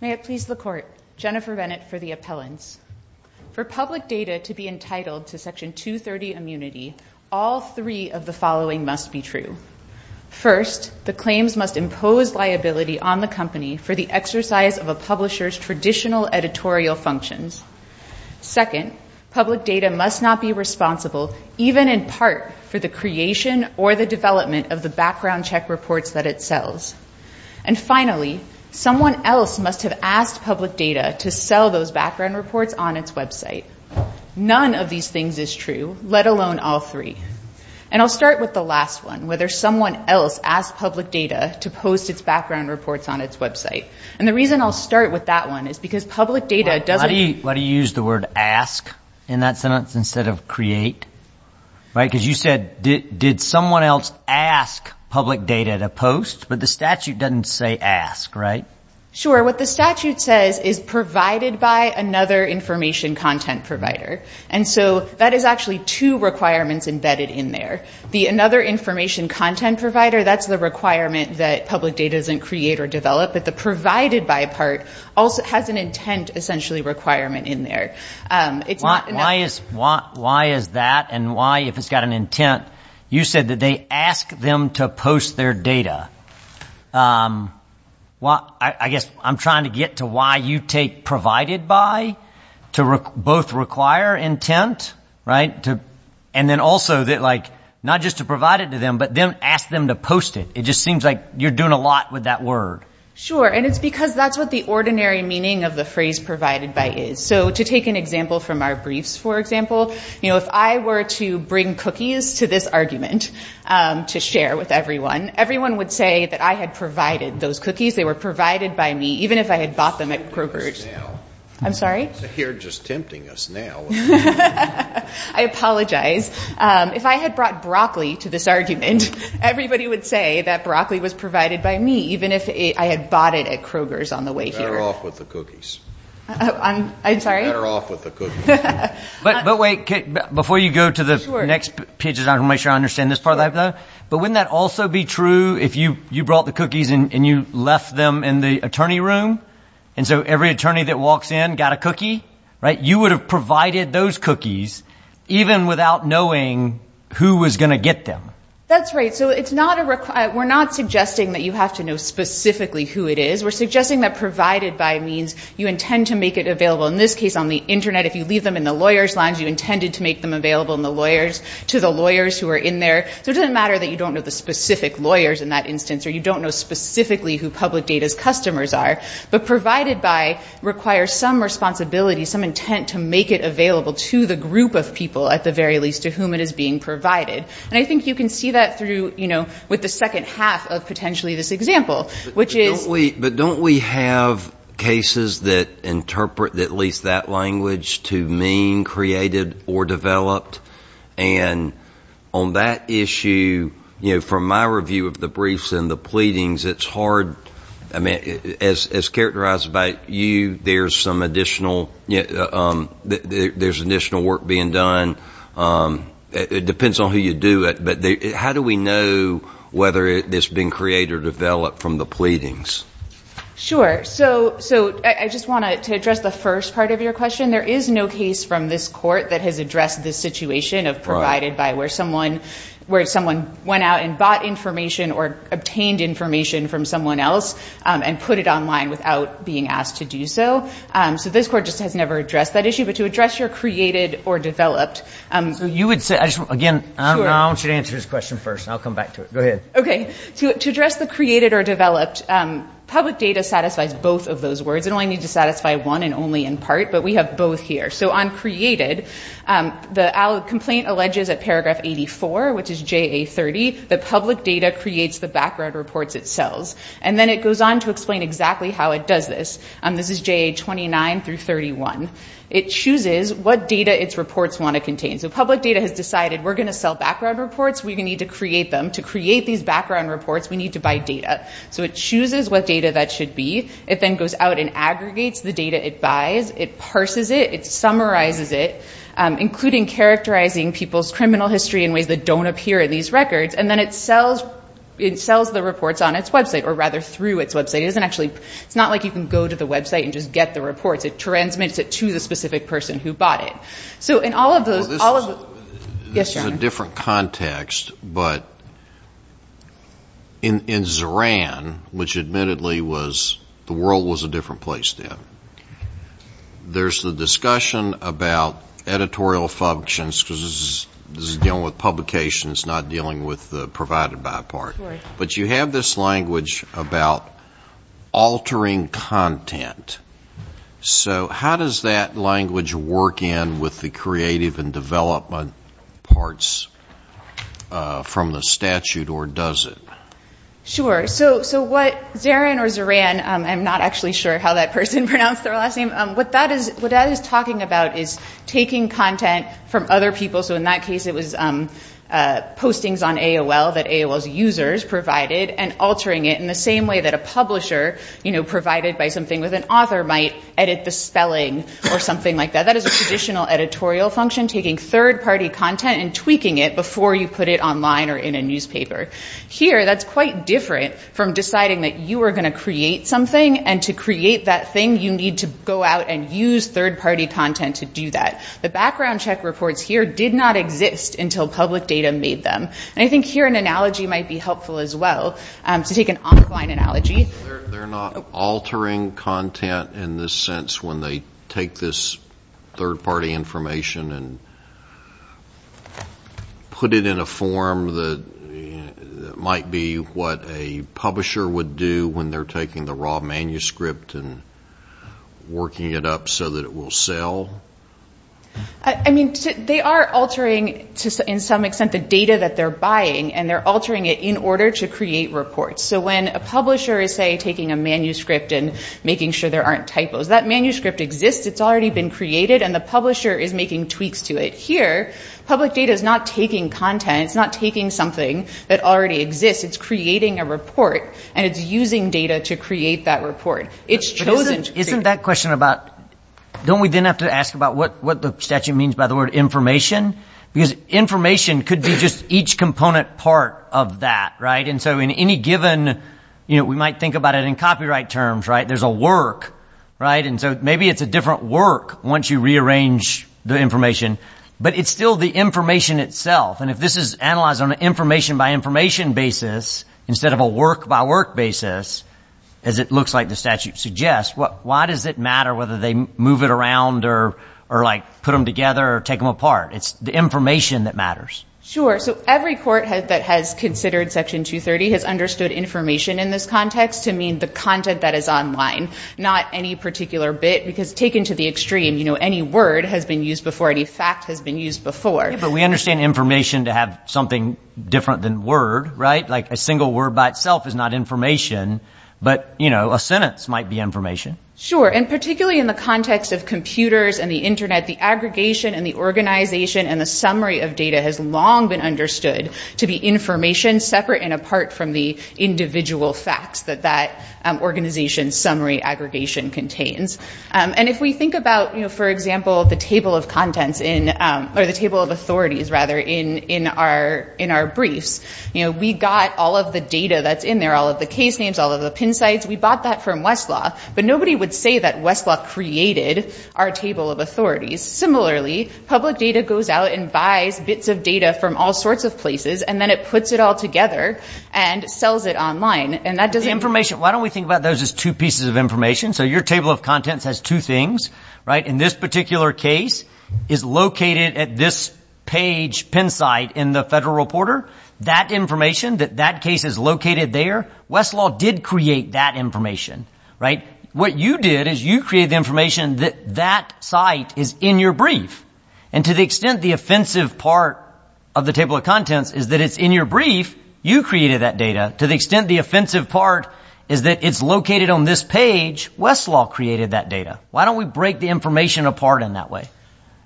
May it please the Court, Jennifer Bennett for the Appellants. For public data to be entitled to Section 230 immunity, all three of the following must be true. First, the claims must impose liability on the company for the exercise of a publisher's traditional editorial functions. Second, public data must not be responsible, even in part, for the creation or the development of the background check reports that it sells. And finally, someone else must have asked public data to sell those background reports on its website. None of these things is true, let alone all three. And I'll start with the last one, whether someone else asked public data to post its background reports on its website. And the reason I'll start with that one is because public data doesn't... Why do you use the word ask in that sentence instead of create? Because you said, did someone else ask public data to post, but the statute doesn't say ask, right? Sure. What the statute says is provided by another information content provider. And so that is actually two requirements embedded in there. The another information content provider, that's the requirement that public data doesn't create or develop, but the provided by part has an intent, essentially, requirement in there. Why is that, and why, if it's got an intent? You said that they ask them to post their data. I guess I'm trying to get to why you take provided by to both require intent, right? And then also, not just to provide it to them, but then ask them to post it. It just seems like you're doing a lot with that word. Sure. And it's because that's what the ordinary meaning of the phrase provided by is. So to take an example from our briefs, for example, if I were to bring cookies to this argument to share with everyone, everyone would say that I had provided those cookies. They were provided by me, even if I had bought them at Kroger's. I'm sorry? You're just tempting us now. I apologize. If I had brought broccoli to this argument, everybody would say that broccoli was provided by me, even if I had bought it at Kroger's on the way here. Better off with the cookies. I'm sorry? Better off with the cookies. But wait. Before you go to the next pages, I want to make sure I understand this part of that though. But wouldn't that also be true if you brought the cookies and you left them in the attorney room? And so every attorney that walks in got a cookie, right? You would have provided those cookies even without knowing who was going to get them. That's right. So we're not suggesting that you have to know specifically who it is. We're suggesting that provided by means you intend to make it available, in this case, on the internet. If you leave them in the lawyer's lines, you intended to make them available to the lawyers who are in there. So it doesn't matter that you don't know the specific lawyers in that instance or you don't know specifically who public data's customers are. But provided by requires some responsibility, some intent to make it available to the group of people, at the very least, to whom it is being provided. And I think you can see that through with the second half of potentially this example, which is... But don't we have cases that interpret at least that language to mean created or developed? And on that issue, you know, from my review of the briefs and the pleadings, it's hard. I mean, as characterized by you, there's some additional work being done. It depends on who you do it. But how do we know whether it's been created or developed from the pleadings? Sure. So I just want to address the first part of your question. There is no case from this court that has addressed this situation of provided by where someone went out and bought information or obtained information from someone else and put it online without being asked to do so. So this court just has never addressed that issue. But to address your created or developed... So you would say... Again, I don't know. I want you to answer this question first. I'll come back to it. Go ahead. Okay. To address the created or developed, public data satisfies both of those words. It only needs to satisfy one and only in part. But we have both here. So on created, the complaint alleges at paragraph 84, which is JA30, that public data creates the background reports it sells. And then it goes on to explain exactly how it does this. This is JA29 through 31. It chooses what data its reports want to contain. So public data has decided we're going to sell background reports. We need to create them. To create these background reports, we need to buy data. So it chooses what data that should be. It then goes out and aggregates the data it buys. It parses it. It summarizes it, including characterizing people's criminal history in ways that don't appear in these records. And then it sells the reports on its website, or rather through its website. It's not like you can go to the website and just get the reports. It transmits it to the specific person who bought it. So in all of those... Well, this is a different context. But in Zoran, which admittedly was, the world was a different place then, there's the discussion about editorial functions, because this is dealing with publications, not dealing with the provided by part. But you have this language about altering content. So how does that language work in with the creative and development parts from the statute, or does it? Sure. So what Zoran, I'm not actually sure how that person pronounced their last name. What that is talking about is taking content from other people. So in that case, it was postings on AOL that AOL's users provided, and altering it in the same way that a publisher provided by something with an author might edit the spelling or something like that. That is a traditional editorial function, taking third-party content and tweaking it before you put it online or in a newspaper. Here, that's quite different from deciding that you are going to create something, and to create that thing, you need to go out and use third-party content to do that. The background check reports here did not exist until public data made them. I think here an analogy might be helpful as well, to take an online analogy. They're not altering content in the sense when they take this third-party information and put it in a form that might be what a publisher would do when they're taking the raw manuscript and working it up so that it will sell? I mean, they are altering, to some extent, the data that they're buying, and they're altering it in order to create reports. So when a publisher is, say, taking a manuscript and making sure there aren't typos, that manuscript exists, it's already been created, and the publisher is making tweaks to it. Here, public data is not taking content, it's not taking something that already exists, it's creating a report, and it's using data to create that report. But isn't that question about, don't we then have to ask about what the statute means by the word information? Because information could be just each component part of that, right? And so in any given, you know, we might think about it in copyright terms, right? There's a work, right? And so maybe it's a different work once you rearrange the information, but it's still the information itself. And if this is analyzed on an information-by-information basis instead of a work-by-work basis, as it looks like the statute suggests, why does it matter whether they move it around or, like, put them together or take them apart? It's the information that matters. Sure. So every court that has considered Section 230 has understood information in this context to mean the content that is online, not any particular bit, because taken to the extreme, you know, any word has been used before, any fact has been used before. But we understand information to have something different than word, right? Like, a single word by itself is not information, but, you know, a sentence might be information. Sure. And particularly in the context of computers and the Internet, the aggregation and the organization and the summary of data has long been understood to be information separate and apart from the individual facts that that organization's summary aggregation contains. And if we think about, you know, for example, the table of contents in—or the table of We bought all of the data that's in there, all of the case names, all of the PIN sites. We bought that from Westlaw. But nobody would say that Westlaw created our table of authorities. Similarly, public data goes out and buys bits of data from all sorts of places, and then it puts it all together and sells it online. And that doesn't— Information. Why don't we think about those as two pieces of information? So your table of contents has two things, right? In this particular case is located at this page PIN site in the Federal Reporter. That information that that case is located there, Westlaw did create that information, right? What you did is you created the information that that site is in your brief. And to the extent the offensive part of the table of contents is that it's in your brief, you created that data. To the extent the offensive part is that it's located on this page, Westlaw created that data. Why don't we break the information apart in that way?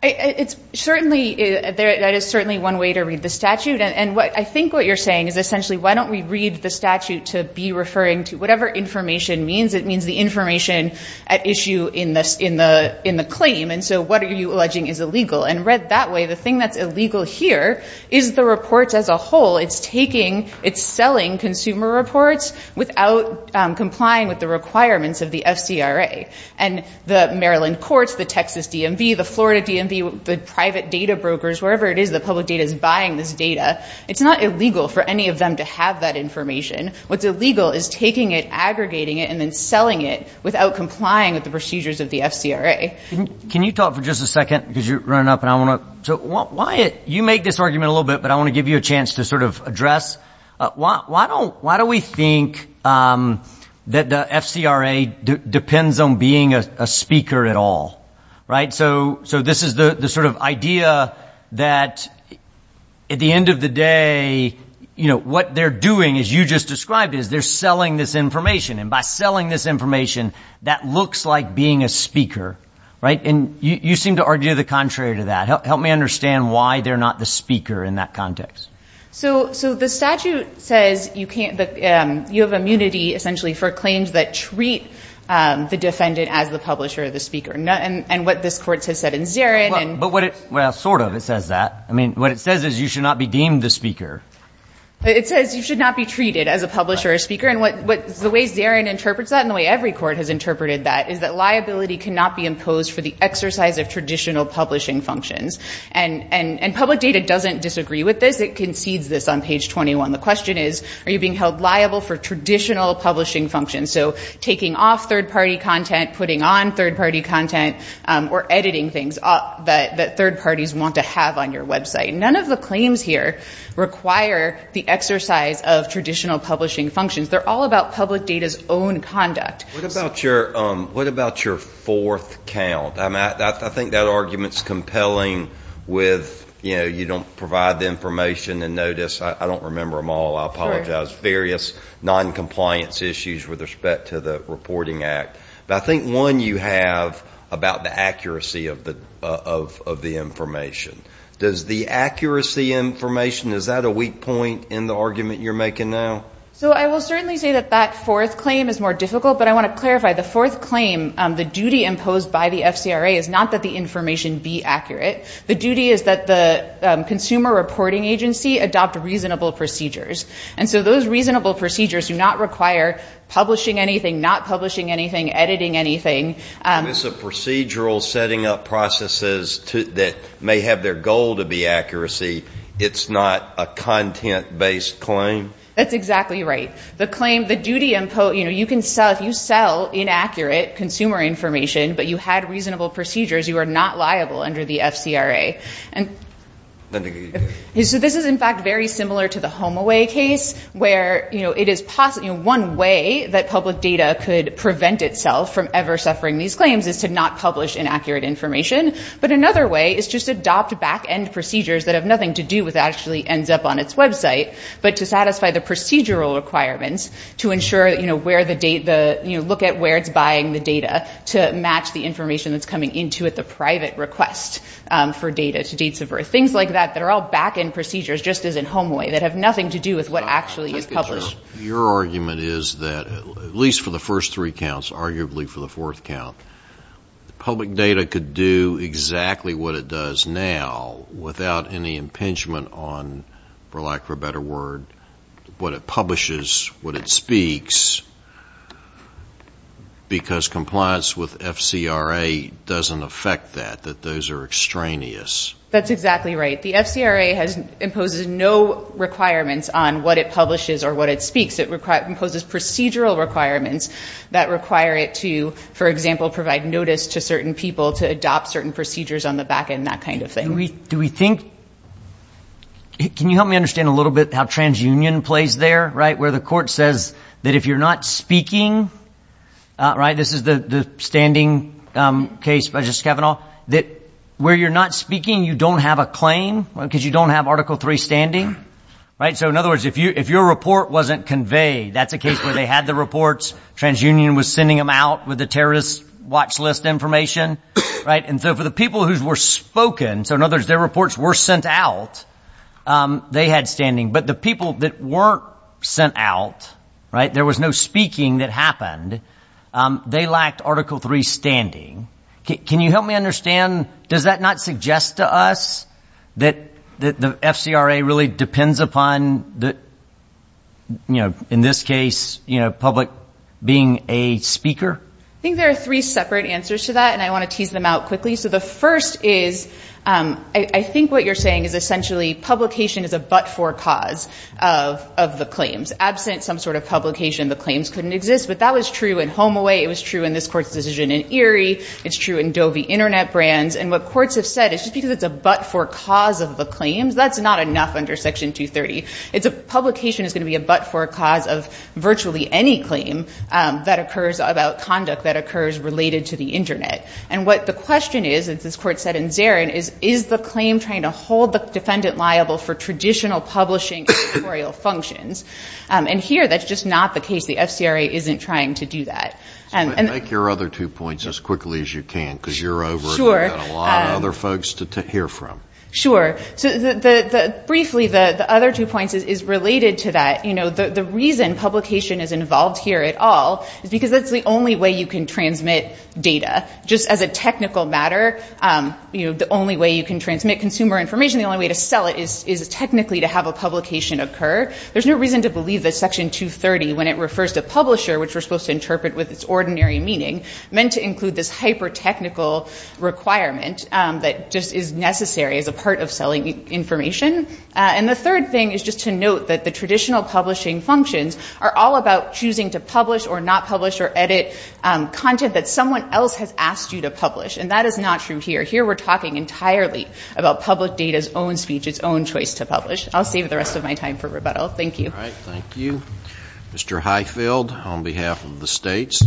It's certainly—there is certainly one way to read the statute. And I think what you're saying is essentially why don't we read the statute to be referring to whatever information means. It means the information at issue in the claim. And so what are you alleging is illegal? And read that way, the thing that's illegal here is the reports as a whole. It's taking—it's selling consumer reports without complying with the requirements of the FCRA. And the Maryland courts, the Texas DMV, the Florida DMV, the private data brokers, wherever it is that public data is buying this data, it's not illegal for any of them to have that information. What's illegal is taking it, aggregating it, and then selling it without complying with the procedures of the FCRA. Can you talk for just a second? Because you're running up, and I want to—so why—you make this argument a little bit, but I want to give you a chance to sort of address. Why don't—why do we think that the FCRA depends on being a speaker at all, right? So this is the sort of idea that, at the end of the day, what they're doing, as you just described, is they're selling this information. And by selling this information, that looks like being a speaker, right? And you seem to argue the contrary to that. Help me understand why they're not the speaker in that context. So the statute says you can't—you have immunity, essentially, for claims that treat the defendant as the publisher or the speaker. And what this court has said in Zarin— But what it—well, sort of, it says that. I mean, what it says is you should not be deemed the speaker. It says you should not be treated as a publisher or speaker. And what—the way Zarin interprets that and the way every court has interpreted that is that liability cannot be imposed for the exercise of traditional publishing functions. And public data doesn't disagree with this. It concedes this on page 21. The question is, are you being held liable for traditional publishing functions? So taking off third-party content, putting on third-party content, or editing things that third parties want to have on your website. None of the claims here require the exercise of traditional publishing functions. They're all about public data's own conduct. What about your fourth count? I think that argument's compelling with, you know, you don't provide the information and notice. I don't remember them all. I apologize. Various noncompliance issues with respect to the Reporting Act. But I think one you have about the accuracy of the information. Does the accuracy information—is that a weak point in the argument you're making now? So I will certainly say that that fourth claim is more difficult, but I want to clarify the fourth claim. The duty imposed by the FCRA is not that the information be accurate. The duty is that the consumer reporting agency adopt reasonable procedures. And so those reasonable procedures do not require publishing anything, not publishing anything, editing anything. If it's a procedural setting up processes that may have their goal to be accuracy, it's not a content-based claim? That's exactly right. The claim—the duty imposed—you know, you can sell— if you sell inaccurate consumer information, but you had reasonable procedures, you are not liable under the FCRA. So this is, in fact, very similar to the HomeAway case, where it is—one way that public data could prevent itself from ever suffering these claims is to not publish inaccurate information. But another way is just adopt back-end procedures that have nothing to do with what actually ends up on its website, but to satisfy the procedural requirements to ensure where the data— the private request for data to dates of birth. Things like that that are all back-end procedures just as in HomeAway that have nothing to do with what actually is published. Your argument is that, at least for the first three counts, arguably for the fourth count, public data could do exactly what it does now without any impingement on, for lack of a better word, what it publishes, what it speaks, because compliance with FCRA doesn't affect that, that those are extraneous. That's exactly right. The FCRA imposes no requirements on what it publishes or what it speaks. It imposes procedural requirements that require it to, for example, provide notice to certain people to adopt certain procedures on the back-end, that kind of thing. Do we think—can you help me understand a little bit how transunion plays there, right, where the court says that if you're not speaking—this is the standing case by Justice Kavanaugh— that where you're not speaking, you don't have a claim because you don't have Article III standing, right? So, in other words, if your report wasn't conveyed, that's a case where they had the reports, transunion was sending them out with the terrorist watch list information, right, and so for the people who were spoken, so in other words, their reports were sent out, they had standing, but the people that weren't sent out, right, there was no speaking that happened, they lacked Article III standing. Can you help me understand, does that not suggest to us that the FCRA really depends upon the, you know, in this case, you know, public being a speaker? I think there are three separate answers to that, and I want to tease them out quickly. So the first is, I think what you're saying is essentially publication is a but-for cause of the claims. Absent some sort of publication, the claims couldn't exist, but that was true in HomeAway, it was true in this court's decision in Erie, it's true in Dovey Internet Brands, and what courts have said is just because it's a but-for cause of the claims, that's not enough under Section 230. Publication is going to be a but-for cause of virtually any claim that occurs about conduct that occurs related to the Internet. And what the question is, as this court said in Zarin, is is the claim trying to hold the defendant liable for traditional publishing and editorial functions? And here, that's just not the case. The FCRA isn't trying to do that. Make your other two points as quickly as you can, because you're over and you've got a lot of other folks to hear from. Sure. So briefly, the other two points is related to that. You know, the reason publication is involved here at all is because that's the only way you can transmit data. Just as a technical matter, the only way you can transmit consumer information, the only way to sell it is technically to have a publication occur. There's no reason to believe that Section 230, when it refers to publisher, which we're supposed to interpret with its ordinary meaning, meant to include this hyper-technical requirement that just is necessary as a part of selling information. And the third thing is just to note that the traditional publishing functions are all about choosing to publish or not publish or edit content that someone else has asked you to publish. And that is not true here. Here, we're talking entirely about public data's own speech, its own choice to publish. I'll save the rest of my time for rebuttal. Thank you. All right. Thank you. Mr. Highfield, on behalf of the states.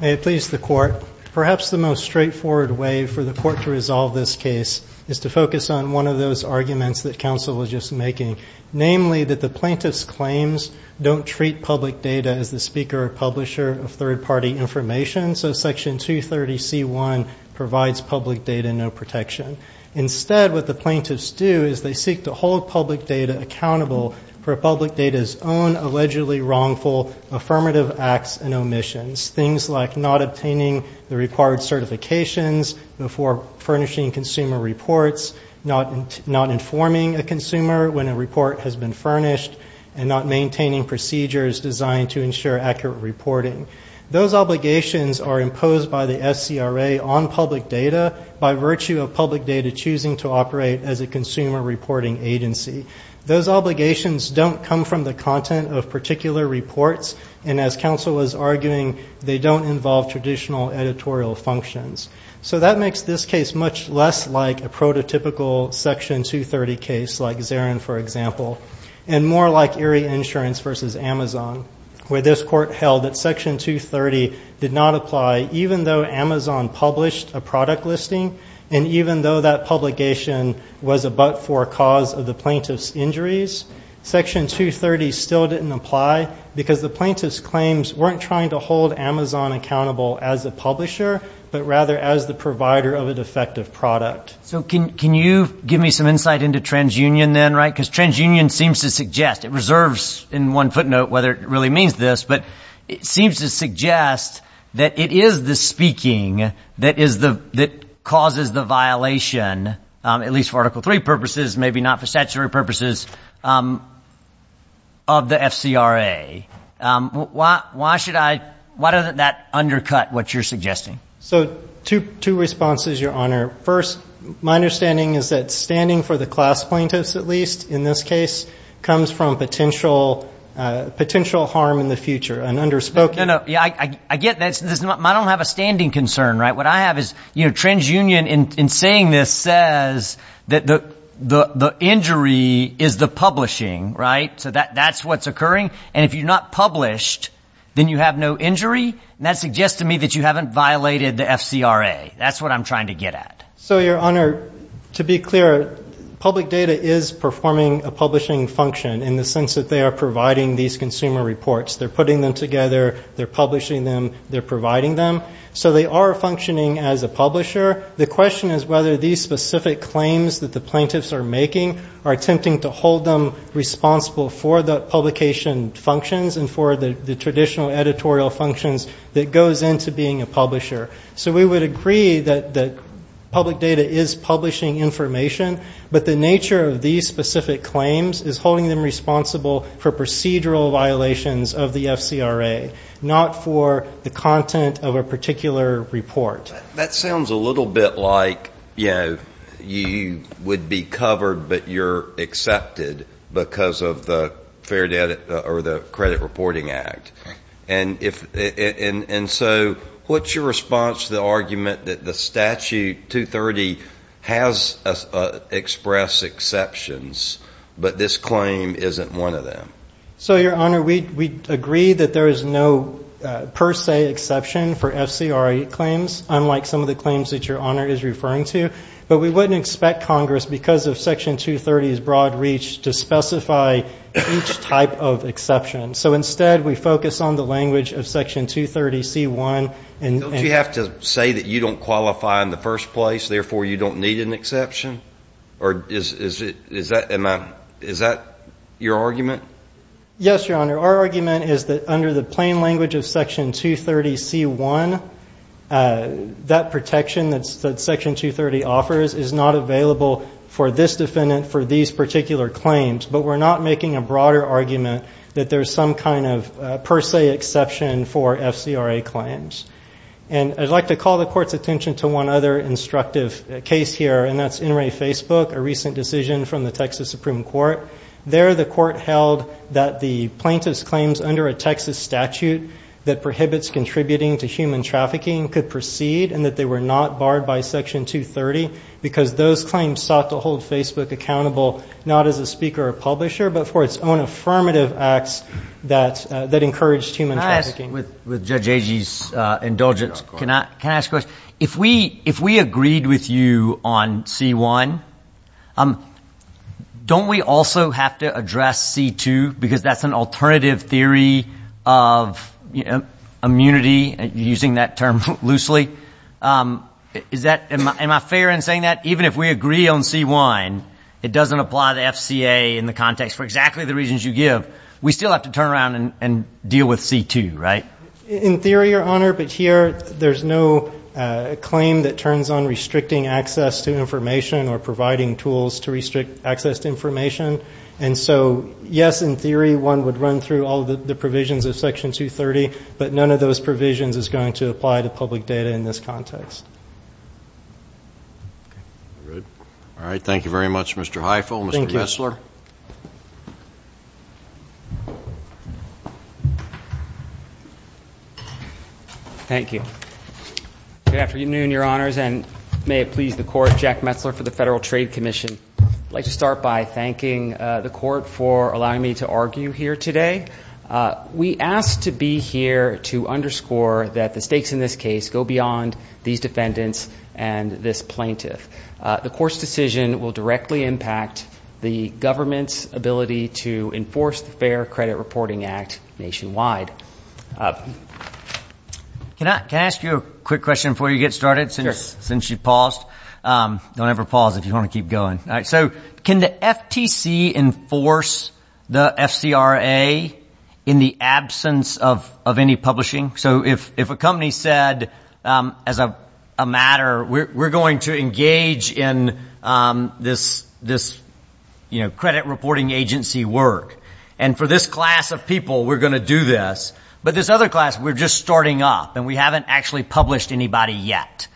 May it please the Court. Perhaps the most straightforward way for the Court to resolve this case is to focus on one of those arguments that counsel was just making, namely that the plaintiffs' claims don't treat public data as the speaker or publisher of third-party information, so Section 230c.1 provides public data no protection. Instead, what the plaintiffs do is they seek to hold public data accountable for public data's own allegedly wrongful affirmative acts and omissions, things like not obtaining the required certifications, before furnishing consumer reports, not informing a consumer when a report has been furnished, and not maintaining procedures designed to ensure accurate reporting. Those obligations are imposed by the SCRA on public data by virtue of public data choosing to operate as a consumer reporting agency. Those obligations don't come from the content of particular reports, and as counsel was arguing, they don't involve traditional editorial functions. So that makes this case much less like a prototypical Section 230 case, like Zarin, for example, and more like Erie Insurance v. Amazon, where this Court held that Section 230 did not apply even though Amazon published a product listing, and even though that publication was a but-for cause of the plaintiffs' injuries, Section 230 still didn't apply because the plaintiffs' claims weren't trying to hold Amazon accountable as a publisher, but rather as the provider of an effective product. So can you give me some insight into TransUnion then, right? Because TransUnion seems to suggest, it reserves in one footnote whether it really means this, but it seems to suggest that it is the speaking that is the... that causes the violation, at least for Article III purposes, maybe not for statutory purposes, of the FCRA. Why should I... Why doesn't that undercut what you're suggesting? So two responses, Your Honor. First, my understanding is that standing for the class plaintiffs, at least in this case, comes from potential... potential harm in the future, an underspoken... No, no, yeah, I get that. I don't have a standing concern, right? What I have is, you know, TransUnion, is the publishing, right? So that's what's occurring. And if you're not published, then you have no injury. And that suggests to me that you haven't violated the FCRA. That's what I'm trying to get at. So, Your Honor, to be clear, public data is performing a publishing function in the sense that they are providing these consumer reports. They're putting them together, they're publishing them, they're providing them. So they are functioning as a publisher. The question is whether these specific claims that the plaintiffs are making are attempting to hold them responsible for the publication functions and for the traditional editorial functions that goes into being a publisher. So we would agree that public data is publishing information, but the nature of these specific claims is holding them responsible for procedural violations of the FCRA, not for the content of a particular report. That sounds a little bit like, you know, you would be covered, but you're accepted because of the Fair Debt or the Credit Reporting Act. And if... And so what's your response to the argument that the statute 230 has expressed exceptions, but this claim isn't one of them? So, Your Honor, we agree that there is no per se exception for FCRA claims, unlike some of the claims that Your Honor is referring to. But we wouldn't expect Congress, because of Section 230's broad reach, to specify each type of exception. So instead, we focus on the language of Section 230c-1... Don't you have to say that you don't qualify in the first place, therefore you don't need an exception? Or is that... Is that your argument? Yes, Your Honor. Our argument is that under the plain language of Section 230c-1, that protection that Section 230 offers is not available for this defendant for these particular claims. But we're not making a broader argument that there's some kind of per se exception for FCRA claims. And I'd like to call the Court's attention to one other instructive case here, and that's NRA Facebook, a recent decision from the Texas Supreme Court. There, the Court held that the plaintiff's claims under a Texas statute that prohibits contributing to human trafficking could proceed, and that they were not barred by Section 230, because those claims sought to hold Facebook accountable not as a speaker or publisher, but for its own affirmative acts that encouraged human trafficking. Can I ask, with Judge Agee's indulgence, can I ask a question? If we agreed with you on C-1, don't we also have to address C-2, because that's an alternative theory of immunity, using that term loosely? Is that... Am I fair in saying that? Even if we agree on C-1, it doesn't apply to FCA in the context for exactly the reasons you give. We still have to turn around and deal with C-2, right? In theory, Your Honor, but here there's no claim that turns on restricting access to information or providing tools to restrict access to information. And so, yes, in theory, one would run through all the provisions of Section 230, but none of those provisions is going to apply to public data in this context. All right, thank you very much, Mr. Hiefel. Mr. Metzler. Thank you. Good afternoon, Your Honors, and may it please the Court, Jack Metzler for the Federal Trade Commission. I'd like to start by thanking the Court for allowing me to argue here today. We asked to be here to underscore that the stakes in this case go beyond these defendants and this plaintiff. The Court's decision will directly impact the government's ability to enforce the Fair Credit Reporting Act nationwide. Can I ask you a quick question before you get started, since you paused? Don't ever pause if you want to keep going. So can the FTC enforce the FCRA in the absence of any publishing? So if a company said, as a matter, we're going to engage in this, you know, credit reporting agency work, and for this class of people, we're going to do this, but this other class, we're just starting up, and we haven't actually published anybody yet.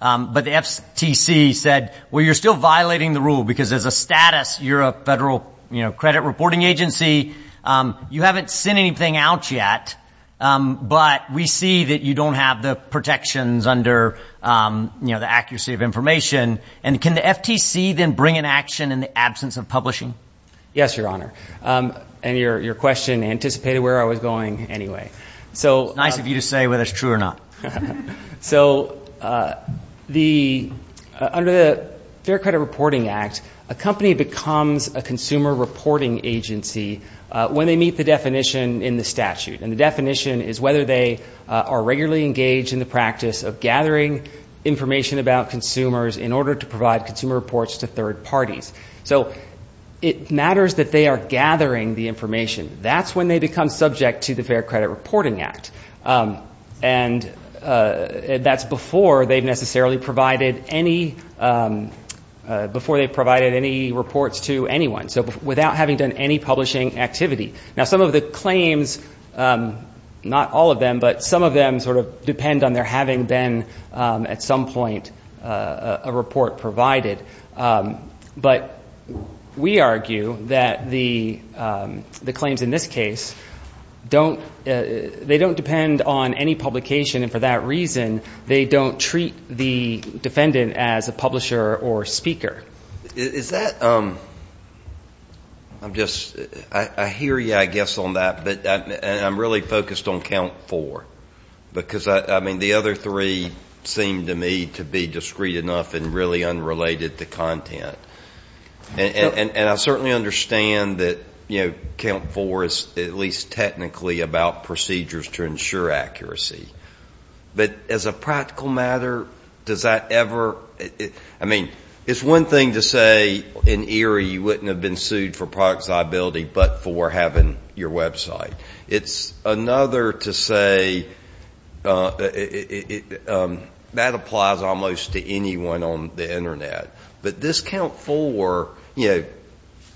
But the FTC said, well, you're still violating the rule, because as a status, you're a federal credit reporting agency, you haven't sent anything out yet, but we see that you don't have the protections under, you know, the accuracy of information. And can the FTC then bring an action in the absence of publishing? Yes, Your Honor. And your question anticipated where I was going anyway. It's nice of you to say whether it's true or not. So the... Under the Fair Credit Reporting Act, a company becomes a consumer reporting agency when they meet the definition in the statute. And the definition is whether they are regularly engaged in the practice of gathering information about consumers in order to provide consumer reports to third parties. So it matters that they are gathering the information. That's when they become subject to the Fair Credit Reporting Act. And that's before they've necessarily provided any... before they've provided any reports to anyone. So without having done any publishing activity. Now, some of the claims, not all of them, but some of them sort of depend on there having been, at some point, a report provided. But we argue that the claims in this case don't... they don't depend on any publication, and for that reason, they don't treat the defendant as a publisher or speaker. Is that... I'm just... I hear you, I guess, on that, but I'm really focused on count four. Because, I mean, the other three seem to me to be discreet enough and really unrelated to content. And I certainly understand that, you know, count four is at least technically about procedures to ensure accuracy. But as a practical matter, does that ever... I mean, it's one thing to say, in ERIE, you wouldn't have been sued for product liability, but for having your website. It's another to say... that applies almost to anyone on the Internet. But this count four, you know,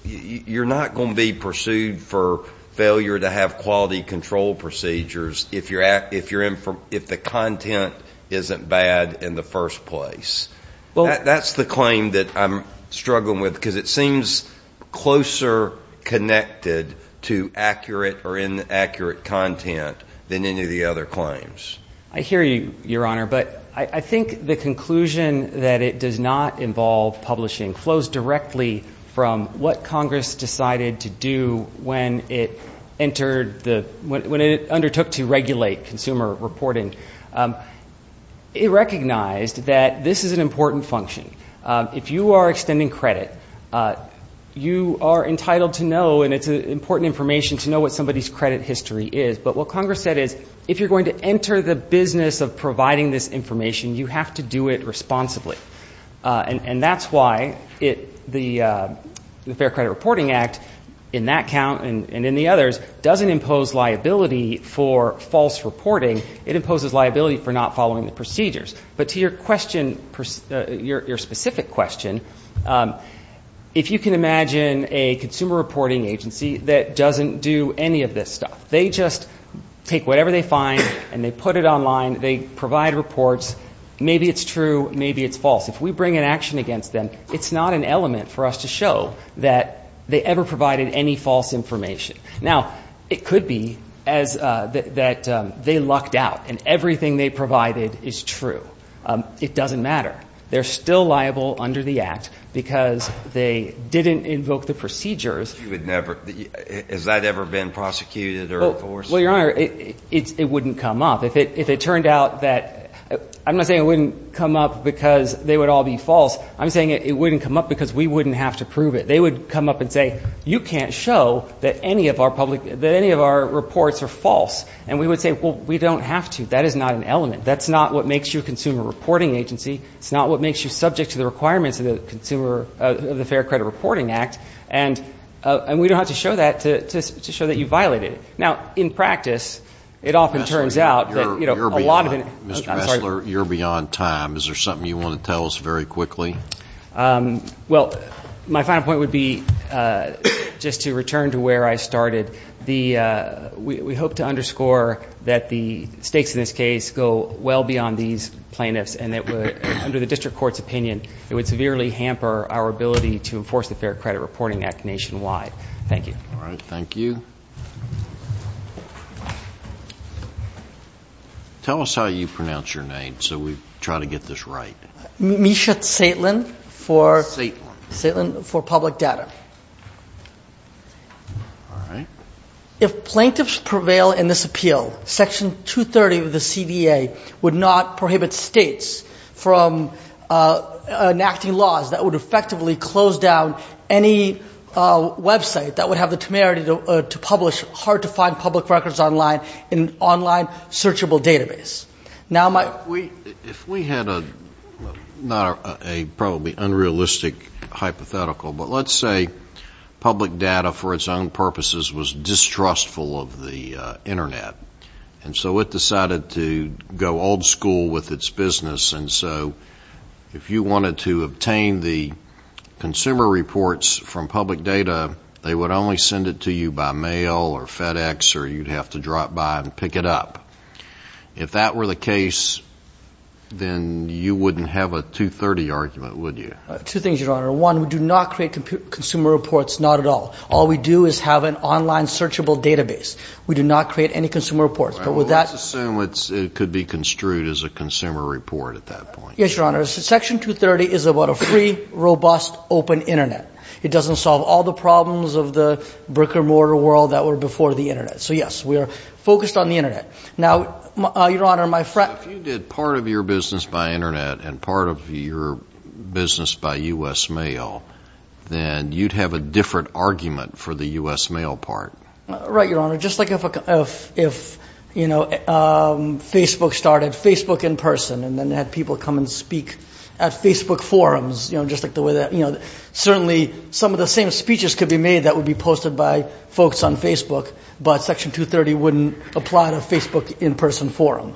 you're not going to be pursued for failure to have quality control procedures if the content isn't bad in the first place. That's the claim that I'm struggling with, because it seems closer connected to accurate or inaccurate content than any of the other claims. I hear you, Your Honor, but I think the conclusion that it does not involve publishing flows directly from what Congress decided to do when it entered the... when it undertook to regulate consumer reporting. It recognized that this is an important function. If you are extending credit, you are entitled to know, and it's important information to know what somebody's credit history is. But what Congress said is, if you're going to enter the business of providing this information, you have to do it responsibly. And that's why the Fair Credit Reporting Act, in that count and in the others, doesn't impose liability for false reporting. It imposes liability for not following the procedures. But to your question, your specific question, if you can imagine a consumer reporting agency that doesn't do any of this stuff. They just take whatever they find, and they put it online, they provide reports. Maybe it's true, maybe it's false. If we bring an action against them, it's not an element for us to show that they ever provided any false information. Now, it could be that they lucked out, and everything they provided is true. It doesn't matter. They're still liable under the Act because they didn't invoke the procedures. Has that ever been prosecuted or enforced? Well, your Honor, it wouldn't come up. If it turned out that... I'm not saying it wouldn't come up because they would all be false. I'm saying it wouldn't come up because we wouldn't have to prove it. They would come up and say, you can't show that any of our reports are false. And we would say, well, we don't have to. That is not an element. That's not what makes you a consumer reporting agency. It's not what makes you subject to the requirements of the Fair Credit Reporting Act. And we don't have to show that to show that you violated it. Now, in practice, it often turns out that a lot of... Mr. Messler, you're beyond time. Is there something you want to tell us very quickly? Um, well, my final point would be, uh, just to return to where I started. The, uh... we hope to underscore that the stakes in this case go well beyond these plaintiffs and that, under the district court's opinion, it would severely hamper our ability to enforce the Fair Credit Reporting Act nationwide. Thank you. All right, thank you. Tell us how you pronounce your name so we try to get this right. Misha Saitlin for... Saitlin. Saitlin for Public Data. All right. If plaintiffs prevail in this appeal, Section 230 of the CVA would not prohibit states from, uh, enacting laws that would effectively close down any, uh, website that would have the temerity to publish hard-to-find public records online in an online searchable database. Now, my... If we had a... not a probably unrealistic hypothetical, but let's say public data for its own purposes was distrustful of the, uh, Internet, and so it decided to go old school with its business, and so if you wanted to obtain the consumer reports from public data, they would only send it to you by mail or FedEx or you'd have to drop by and pick it up. If that were the case, then you wouldn't have a 230 argument, would you? Two things, Your Honor. One, we do not create consumer reports, not at all. All we do is have an online searchable database. We do not create any consumer reports, but with that... Let's assume it could be construed as a consumer report at that point. Yes, Your Honor. Section 230 is about a free, robust, open Internet. It doesn't solve all the problems of the brick-and-mortar world that were before the Internet. So, yes, we're focused on the Internet. Now, Your Honor, my friend... If you did part of your business by Internet and part of your business by U.S. mail, then you'd have a different argument for the U.S. mail part. Right, Your Honor. Just like if, you know, Facebook started Facebook in person and then had people come and speak at Facebook forums, you know, just like the way that, you know, certainly some of the same speeches could be made that would be posted by folks on Facebook, but Section 230 wouldn't apply to a Facebook in-person forum.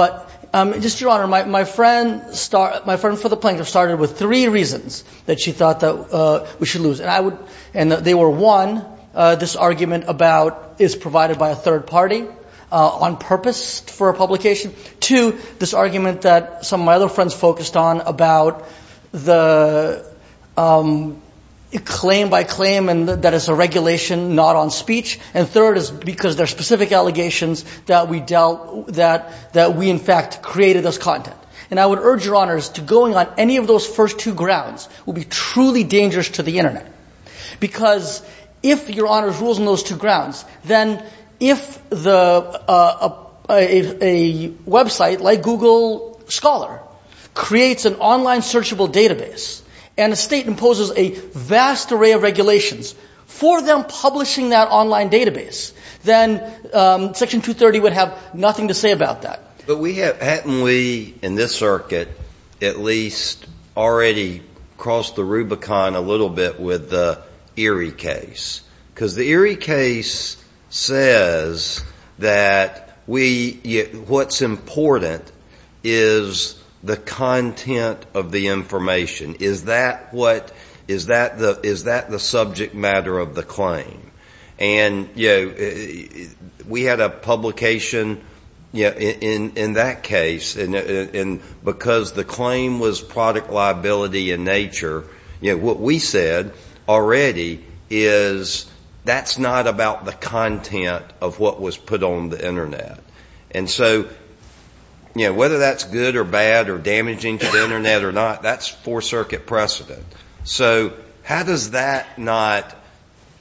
But, um, just, Your Honor, my friend... My friend for the plaintiff started with three reasons that she thought that we should lose. And I would... And they were, one, this argument about is provided by a third party on purpose for a publication. Two, this argument that some of my other friends focused on about the, um, claim by claim and that it's a regulation not on speech. And third is because there are specific allegations that we dealt... that we, in fact, created this content. And I would urge Your Honors to going on any of those first two grounds will be truly dangerous to the internet. Because if Your Honors rules on those two grounds, then if the, uh... if a website like Google Scholar creates an online searchable database and a state imposes a vast array of regulations for them publishing that online database, then, um, Section 230 would have nothing to say about that. But we have... Hadn't we, in this circuit, at least already crossed the Rubicon a little bit with the Erie case? Because the Erie case says that we... What's important is the content of the information. Is that what... Is that the subject matter of the claim? And, you know, we had a publication, you know, in that case, and because the claim was product liability in nature, you know, what we said already is that's not about the content of what was put on the internet. And so, you know, whether that's good or bad or damaging to the internet or not, that's Fourth Circuit precedent. So how does that not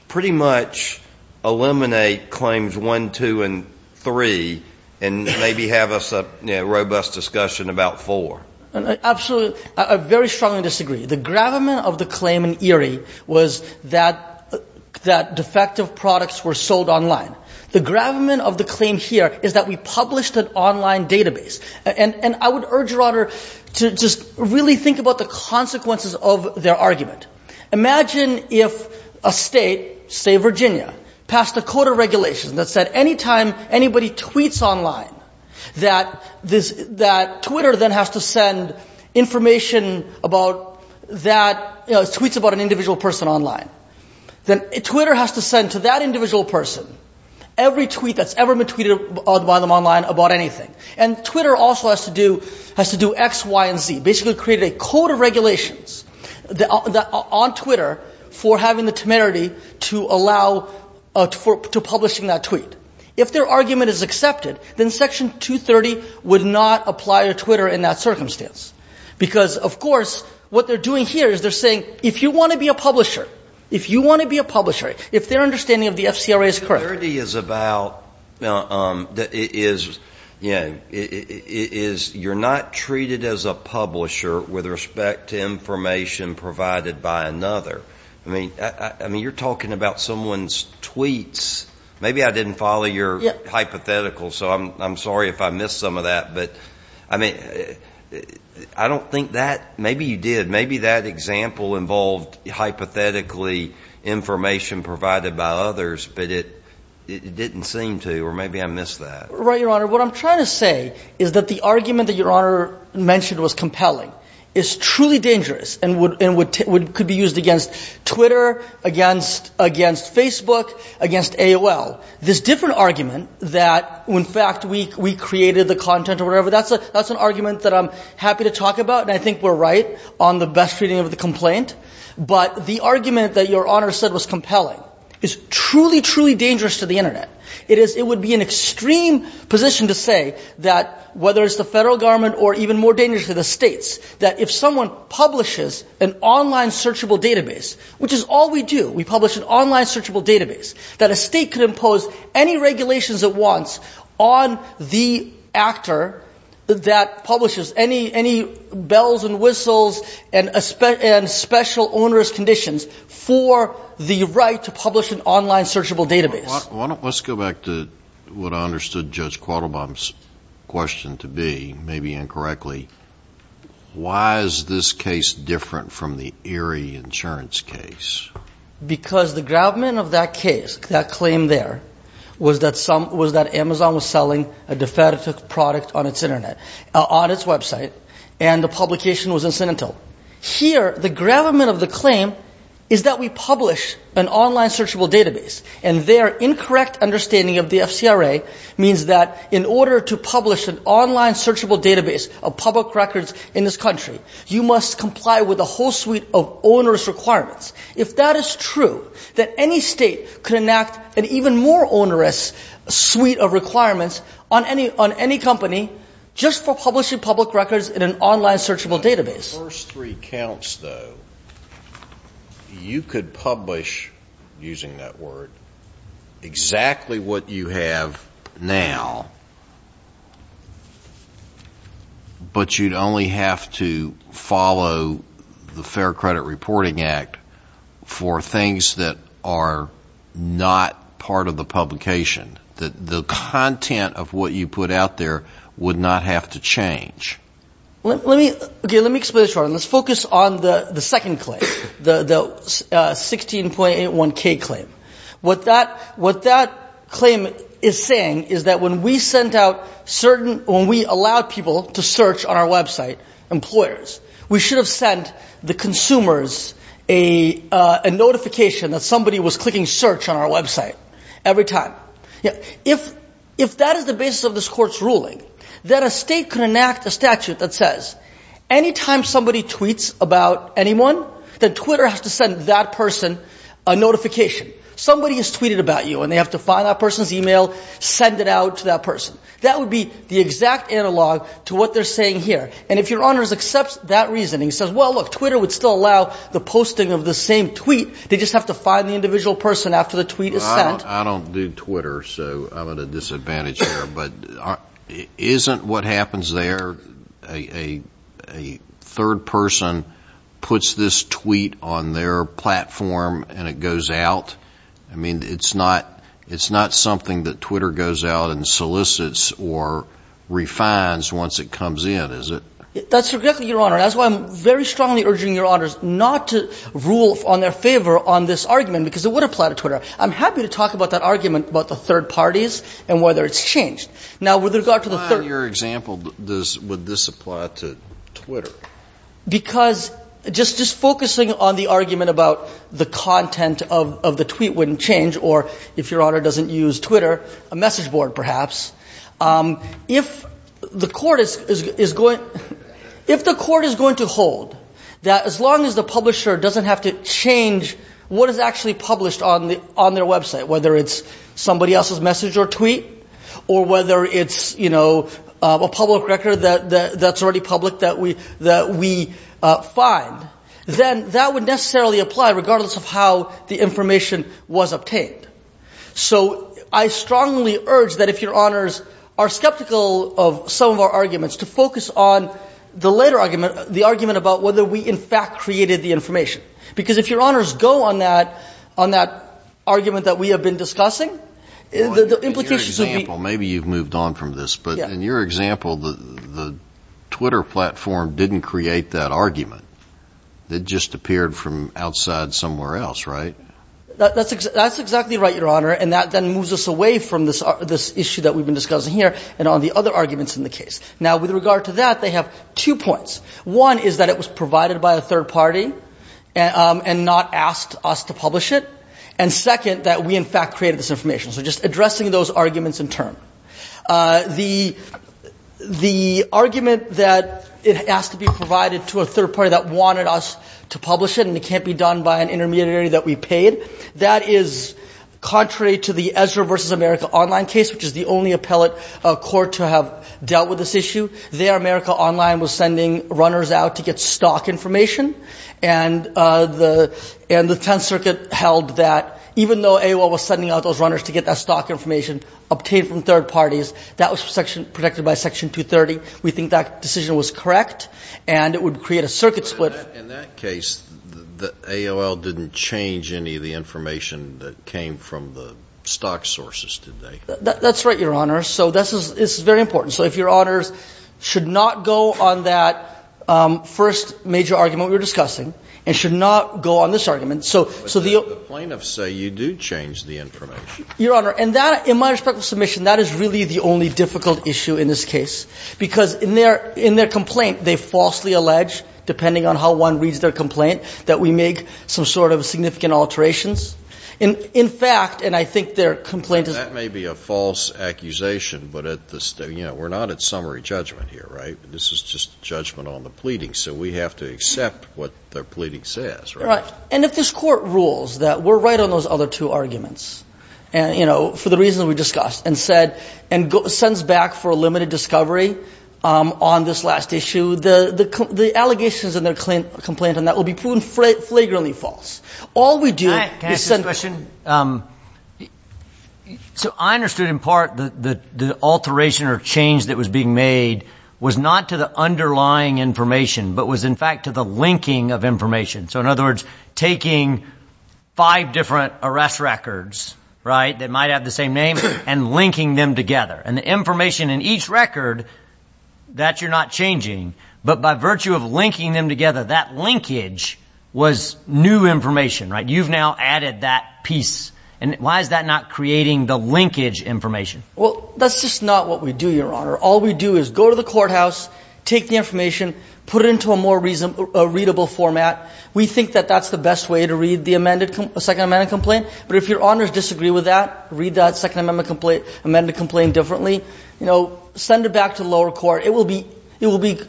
pretty much eliminate claims 1, 2, and 3 and maybe have us, you know, a robust discussion about 4? Absolutely. I very strongly disagree. The gravamen of the claim in Erie was that defective products were sold online. The gravamen of the claim here is that we published an online database. And I would urge Your Honour to just really think about the consequences of their argument. Imagine if a state, say Virginia, passed a code of regulations that said any time anybody tweets online that Twitter then has to send information about that... tweets about an individual person online. Twitter has to send to that individual person every tweet that's ever been tweeted by them online about anything. And Twitter also has to do X, Y, and Z, basically created a code of regulations on Twitter for having the temerity to allow... to publishing that tweet. If their argument is accepted, then Section 230 would not apply to Twitter in that circumstance. Because, of course, what they're doing here is they're saying, if you want to be a publisher, if you want to be a publisher, if their understanding of the FCRA is correct... 230 is about... is, you know... is you're not treated as a publisher with respect to information provided by another. I mean, you're talking about someone's tweets. Maybe I didn't follow your hypothetical, so I'm sorry if I missed some of that. But, I mean, I don't think that... Maybe you did. Maybe that example involved, hypothetically, information provided by others, but it didn't seem to. Or maybe I missed that. Right, Your Honor. What I'm trying to say is that the argument that Your Honor mentioned was compelling is truly dangerous and could be used against Twitter, against Facebook, against AOL. This different argument that, in fact, we created the content or whatever, that's an argument that I'm happy to talk about, and I think we're right on the best reading of the complaint. But the argument that Your Honor said was compelling is truly, truly dangerous to the Internet. It would be an extreme position to say that whether it's the federal government or even more dangerous to the states, that if someone publishes an online searchable database, which is all we do, we publish an online searchable database, that a state could impose any regulations it wants on the actor that publishes any bells and whistles and special onerous conditions for the right to publish an online searchable database. Let's go back to what I understood Judge Quattlebaum's question to be, maybe incorrectly. Why is this case different from the Erie insurance case? Because the gravamen of that case, that claim there, was that Amazon was selling a defective product on its Internet, on its website, and the publication was incentive. Here, the gravamen of the claim is that we publish an online searchable database, and their incorrect understanding of the FCRA means that in order to publish an online searchable database of public records in this country, you must comply with a whole suite of onerous requirements. If that is true, that any state could enact an even more onerous suite of requirements on any company just for publishing public records in an online searchable database. The first three counts, though, you could publish, using that word, exactly what you have now, but you'd only have to follow the Fair Credit Reporting Act for things that are not part of the publication. The content of what you put out there would not have to change. Let me... Okay, let me explain this. Let's focus on the second claim, the 16.81k claim. What that claim is saying is that when we sent out certain... When we allowed people to search on our website, employers, we should have sent the consumers a notification that somebody was clicking search on our website every time. If that is the basis of this court's ruling, then a state could enact a statute that says any time somebody tweets about anyone, that Twitter has to send that person a notification. Somebody has tweeted about you, and they have to find that person's email, send it out to that person. That would be the exact analog to what they're saying here. And if Your Honor accepts that reasoning, says, well, look, Twitter would still allow the posting of the same tweet, they just have to find the individual person after the tweet is sent... I don't do Twitter, so I'm at a disadvantage here, but isn't what happens there a third person puts this tweet on their platform and it goes out? I mean, it's not... It's not something that Twitter goes out and solicits or refines once it comes in, is it? That's exactly, Your Honor. That's why I'm very strongly urging Your Honors not to rule on their favor on this argument, because it would apply to Twitter. I'm happy to talk about that argument about the third parties and whether it's changed. Now, with regard to the third... Would this apply to Twitter? Because just focusing on the argument about the content of the tweet wouldn't change, or if Your Honor doesn't use Twitter, a message board, perhaps. If the court is going... If the court is going to hold that as long as the publisher doesn't have to change what is actually published on their website, whether it's somebody else's message or tweet or whether it's, you know, a public record that's already public that we find, then that would necessarily apply regardless of how the information was obtained. So I strongly urge that if Your Honors are skeptical of some of our arguments to focus on the later argument, the argument about whether we, in fact, created the information. Because if Your Honors go on that, on that argument that we have been discussing, the implications of the... In your example, maybe you've moved on from this, but in your example, the Twitter platform didn't create that argument. It just appeared from outside somewhere else, right? That's exactly right, Your Honor, and that then moves us away from this issue that we've been discussing here and on the other arguments in the case. Now, with regard to that, they have two points. and not asked us to publish it. And second, that we, in fact, created this information. So just addressing those arguments in turn. The argument that it has to be provided to a third party that wanted us to publish it and it can't be done by an intermediary that we paid, that is contrary to the Ezra v. America Online case, which is the only appellate court to have dealt with this issue. There, America Online was sending runners out to get stock information, and the Tenth Circuit held that even though AOL was sending out those runners to get that stock information obtained from third parties, that was protected by Section 230. We think that decision was correct and it would create a circuit split. But in that case, AOL didn't change any of the information that came from the stock sources, did they? That's right, Your Honor. So this is very important. So if Your Honors should not go on that first major argument we were discussing and should not go on this argument, But the plaintiffs say you do change the information. Your Honor, in my respectful submission, that is really the only difficult issue in this case because in their complaint, they falsely allege, depending on how one reads their complaint, that we make some sort of significant alterations. In fact, and I think their complaint is... That may be a false accusation, but we're not at summary judgment here, right? This is just judgment on the pleading, so we have to accept what their pleading says, right? And if this court rules that we're right on those other two arguments, you know, for the reasons we discussed, and sends back for a limited discovery on this last issue, the allegations in their complaint will be proven flagrantly false. All we do... Can I ask you a question? So I understood in part that the alteration or change that was being made was not to the underlying information, but was in fact to the linking of information. So in other words, taking five different arrest records, right, that might have the same name, and linking them together. And the information in each record that you're not changing, but by virtue of linking them together, that linkage was new information, right? You've now added that piece. And why is that not creating the linkage information? Well, that's just not what we do, Your Honor. All we do is go to the courthouse, take the information, put it into a more reasonable... We think that that's the best way to read the Second Amendment complaint. But if Your Honors disagree with that, read that Second Amendment complaint differently, send it back to the lower court. It will be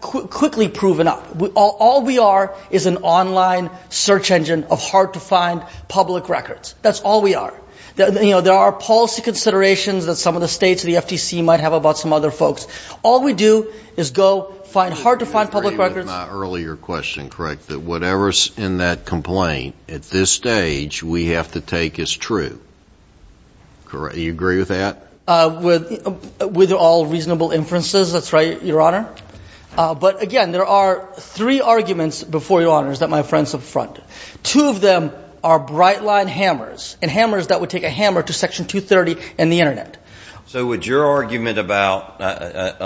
quickly proven up. All we are is an online search engine of hard-to-find public records. That's all we are. There are policy considerations that some of the states, the FTC, might have about some other folks. All we do is go find hard-to-find public records... I got my earlier question correct, that whatever's in that complaint, at this stage, we have to take as true. Do you agree with that? With all reasonable inferences, that's right, Your Honor. But again, there are three arguments before you, Your Honors, that my friends have fronted. Two of them are bright-line hammers, and hammers that would take a hammer to Section 230 and the Internet. So would your argument about... ...the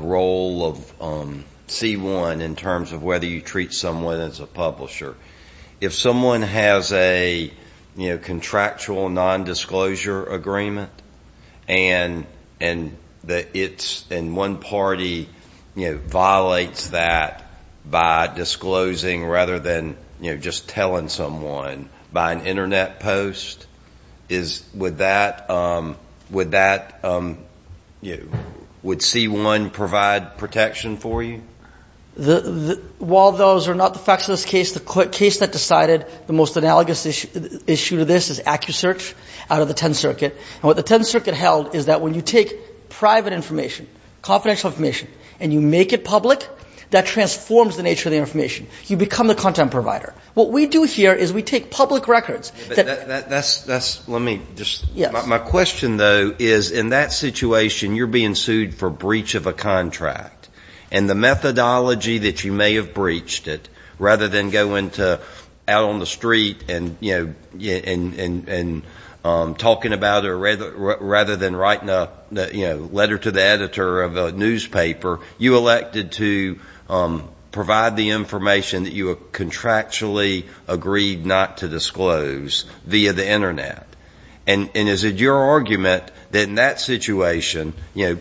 role of C-1 in terms of whether you treat someone as a publisher... If someone has a, you know, contractual non-disclosure agreement, and one party, you know, violates that by disclosing rather than, you know, just telling someone by an Internet post, would that... would C-1 provide protection for you? While those are not the facts of this case, the case that decided the most analogous issue to this is AccuSearch out of the Tenth Circuit. And what the Tenth Circuit held is that when you take private information, confidential information, and you make it public, that transforms the nature of the information. You become the content provider. What we do here is we take public records... That's... that's... let me just... My question, though, is in that situation, you're being sued for breach of a contract. And the methodology that you may have breached it, rather than going to... out on the street and, you know, and talking about it, rather than writing a, you know, letter to the editor of a newspaper, you elected to provide the information that you contractually agreed not to disclose via the Internet. And is it your argument that in that situation, you know,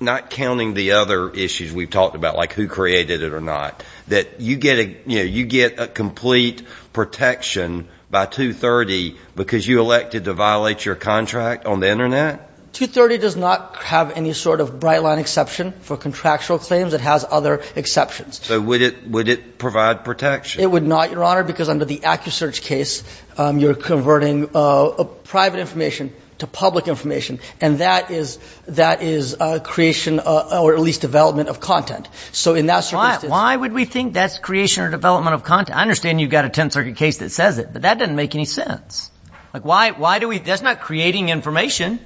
not counting the other issues we've talked about, like who created it or not, that you get a... you know, you get a complete protection by 230 because you elected to violate your contract on the Internet? 230 does not have any sort of bright-line exception for contractual claims. It has other exceptions. So would it... would it provide protection? It would not, Your Honor, because under the AccuSearch case, you're converting private information to public information, and that is... that is creation or at least development of content. So in that circumstance... Why would we think that's creation or development of content? I understand you've got a Tenth Circuit case that says it, but that doesn't make any sense. Like, why... why do we... That's not creating information,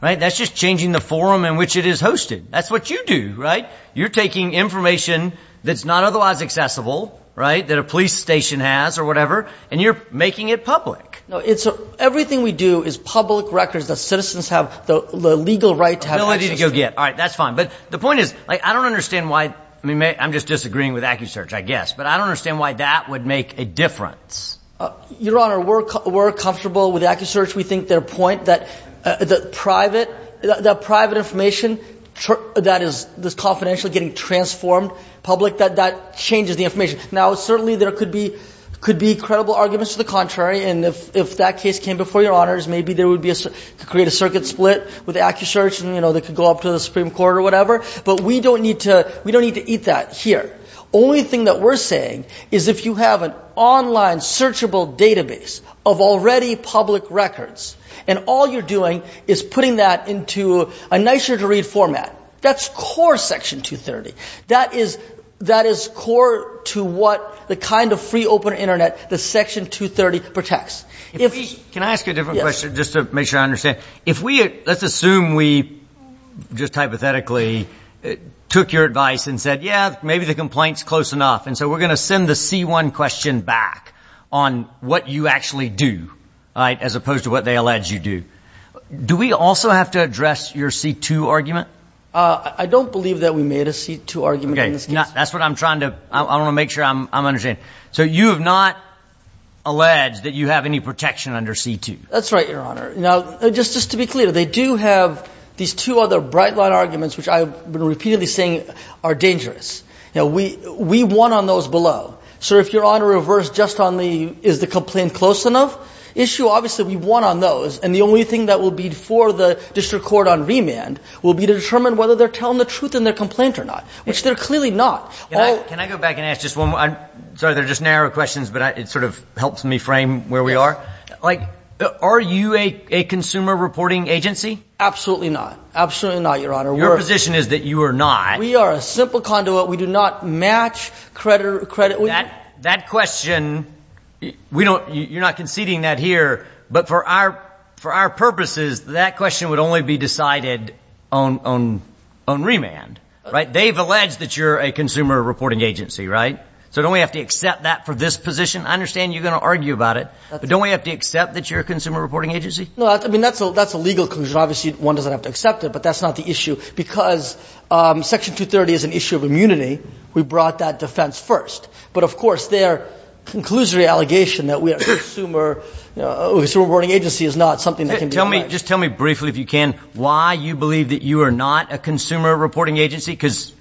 right? That's just changing the forum in which it is hosted. That's what you do, right? You're taking information that's not otherwise accessible, right, that a police station has or whatever, and you're making it public. No, it's... Everything we do is public records that citizens have the legal right to have access to. No, I didn't go yet. All right, that's fine. But the point is, like, I don't understand why... I mean, I'm just disagreeing with AccuSearch, I guess, but I don't understand why that would make a difference. Your Honor, we're comfortable with AccuSearch. We think their point that... that private... that private information that is confidentially getting transformed public, that that changes the information. Now, certainly there could be... could be credible arguments to the contrary, and if that case came before Your Honors, maybe there would be a... create a circuit split with AccuSearch and, you know, they could go up to the Supreme Court or whatever, but we don't need to... we don't need to eat that here. Only thing that we're saying is if you have an online searchable database of already public records and all you're doing is putting that into a nicer-to-read format, that's core Section 230. That is... that is core to what the kind of free, open Internet that Section 230 protects. If we... Can I ask a different question, just to make sure I understand? If we... let's assume we, just hypothetically, took your advice and said, yeah, maybe the complaint's close enough, and so we're going to send the C1 question back on what you actually do, all right, as opposed to what they allege you do, do we also have to address your C2 argument? I don't believe that we made a C2 argument in this case. Okay, that's what I'm trying to... I want to make sure I'm understanding. So you have not alleged that you have any protection under C2? That's right, Your Honor. Now, just to be clear, they do have these two other bright-line arguments, which I've been repeatedly saying are dangerous. We won on those below. So if Your Honor reversed just on the is the complaint close enough issue, obviously we won on those, and the only thing that will be for the district court on remand will be to determine whether they're telling the truth in their complaint or not, which they're clearly not. Can I go back and ask just one more... sorry, they're just narrow questions, but it sort of helps me frame where we are. Like, are you a consumer reporting agency? Absolutely not. Absolutely not, Your Honor. Your position is that you are not. We are a simple conduit. We do not match credit... That question, you're not conceding that here, but for our purposes, that question would only be decided on remand, right? They've alleged that you're a consumer reporting agency, right? So don't we have to accept that for this position? I understand you're going to argue about it, but don't we have to accept that you're a consumer reporting agency? No, I mean, that's a legal conclusion. Obviously, one doesn't have to accept it, but that's not the issue, because Section 230 is an issue of immunity. We brought that defense first. But, of course, their conclusory allegation that we are a consumer reporting agency is not something that can be... Just tell me briefly, if you can, why you believe that you are not a consumer reporting agency, because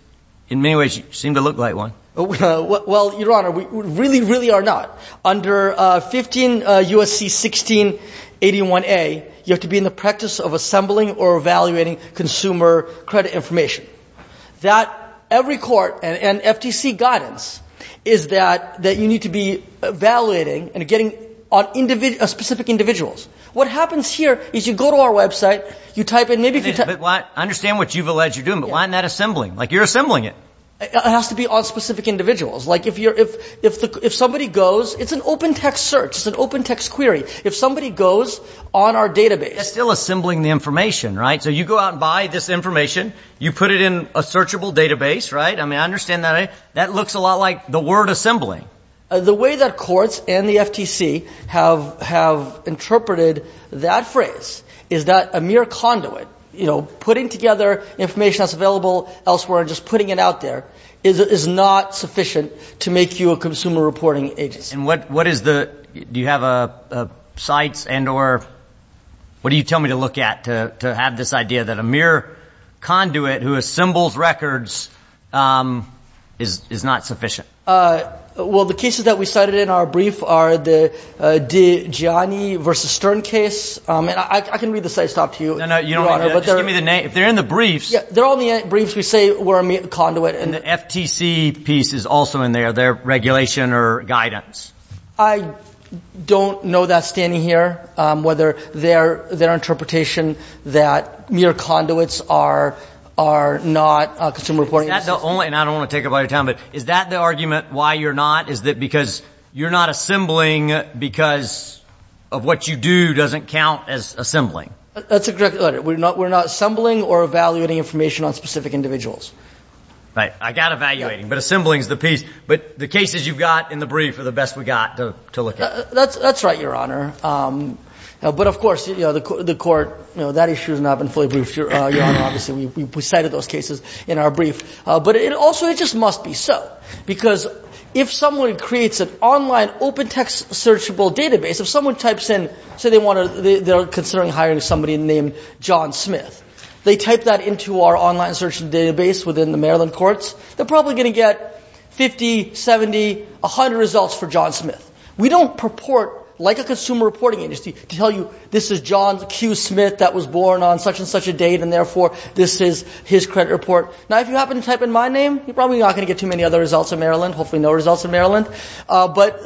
in many ways, you seem to look like one. Well, Your Honor, we really, really are not. Under 15 U.S.C. 16 81A, you have to be in the practice of assembling or evaluating consumer credit information. That every court and FTC guidance is that you need to be evaluating and getting specific individuals. What happens here is you go to our website, you type in... I understand what you've alleged you're doing, but why isn't that assembling? Like, you're assembling it. It has to be on specific individuals. Like, if somebody goes... It's an open text search. It's an open text query. If somebody goes on our database... They're still assembling the information, right? So you go out and buy this information. You put it in a searchable database, right? I mean, I understand that. That looks a lot like the word assembling. The way that courts and the FTC have interpreted that phrase is that a mere conduit, you know, putting together information that's available elsewhere and just putting it out there, is not sufficient to make you a consumer reporting agency. And what is the... Do you have a site and or... What do you tell me to look at to have this idea that a mere conduit who assembles records is not sufficient? Well, the cases that we cited in our brief are the Gianni v. Stern case. And I can read the sites off to you. No, no, you don't have to. Just give me the name. If they're in the briefs... Yeah, they're all in the briefs. We say we're a mere conduit. And the FTC piece is also in there. They're regulation or guidance. I don't know that standing here whether their interpretation that mere conduits are not a consumer reporting agency. Is that the only... And I don't want to take up all your time, but is that the argument why you're not? Is that because you're not assembling because of what you do doesn't count as assembling? That's exactly right. We're not assembling or evaluating information on specific individuals. Right. I got evaluating, but assembling is the piece. But the cases you've got in the brief are the best we got to look at. That's right, Your Honor. But of course, the court that issue has not been fully briefed, Your Honor. Obviously, we cited those cases in our brief. But it also just must be so. Because if someone creates an online open text searchable database, if someone types in, say they want to they're considering hiring somebody named John Smith. They type that into our online search database within the Maryland courts, they're probably going to get 50, 70, 100 results for John Smith. We don't purport like a consumer reporting agency to tell you this is John Q. Smith that was born on such and such a date and therefore this is his credit report. Now, if you happen to type in my name, you're probably not going to get too many other results in Maryland. Hopefully no results in Maryland.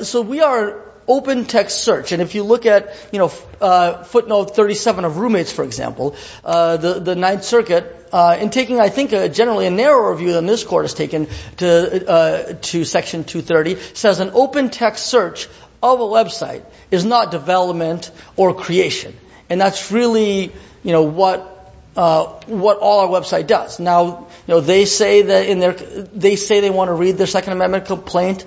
So we are open text search. And if you look at footnote 37 of roommates, for example, the Ninth Circuit in taking, I think, generally a narrower view than this court has taken to section 230 says an open text search of a website is not development or creation. And that's really what all our website does. Now, they say they want to read their Second Amendment complaint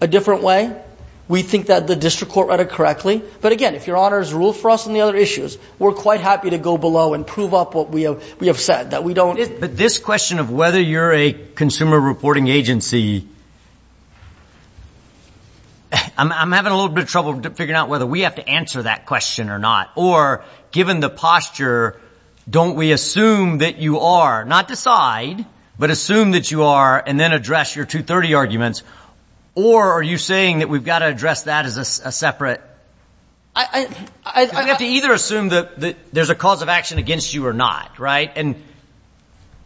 a different way. We think that the district court read it correctly. But again, if your honor has ruled for us on the other issues, we're quite happy to go below and prove up what we have said. That we don't... But this question of whether you're a consumer reporting agency... I'm having a little bit of trouble figuring out whether we have to answer that question or not. Or given the posture, don't we assume that you are, not decide, but assume that you are and then address your 230 arguments? Or are you saying that we've got to address that as a separate... I... We have to either assume that there's a cause of action against you or not, right? And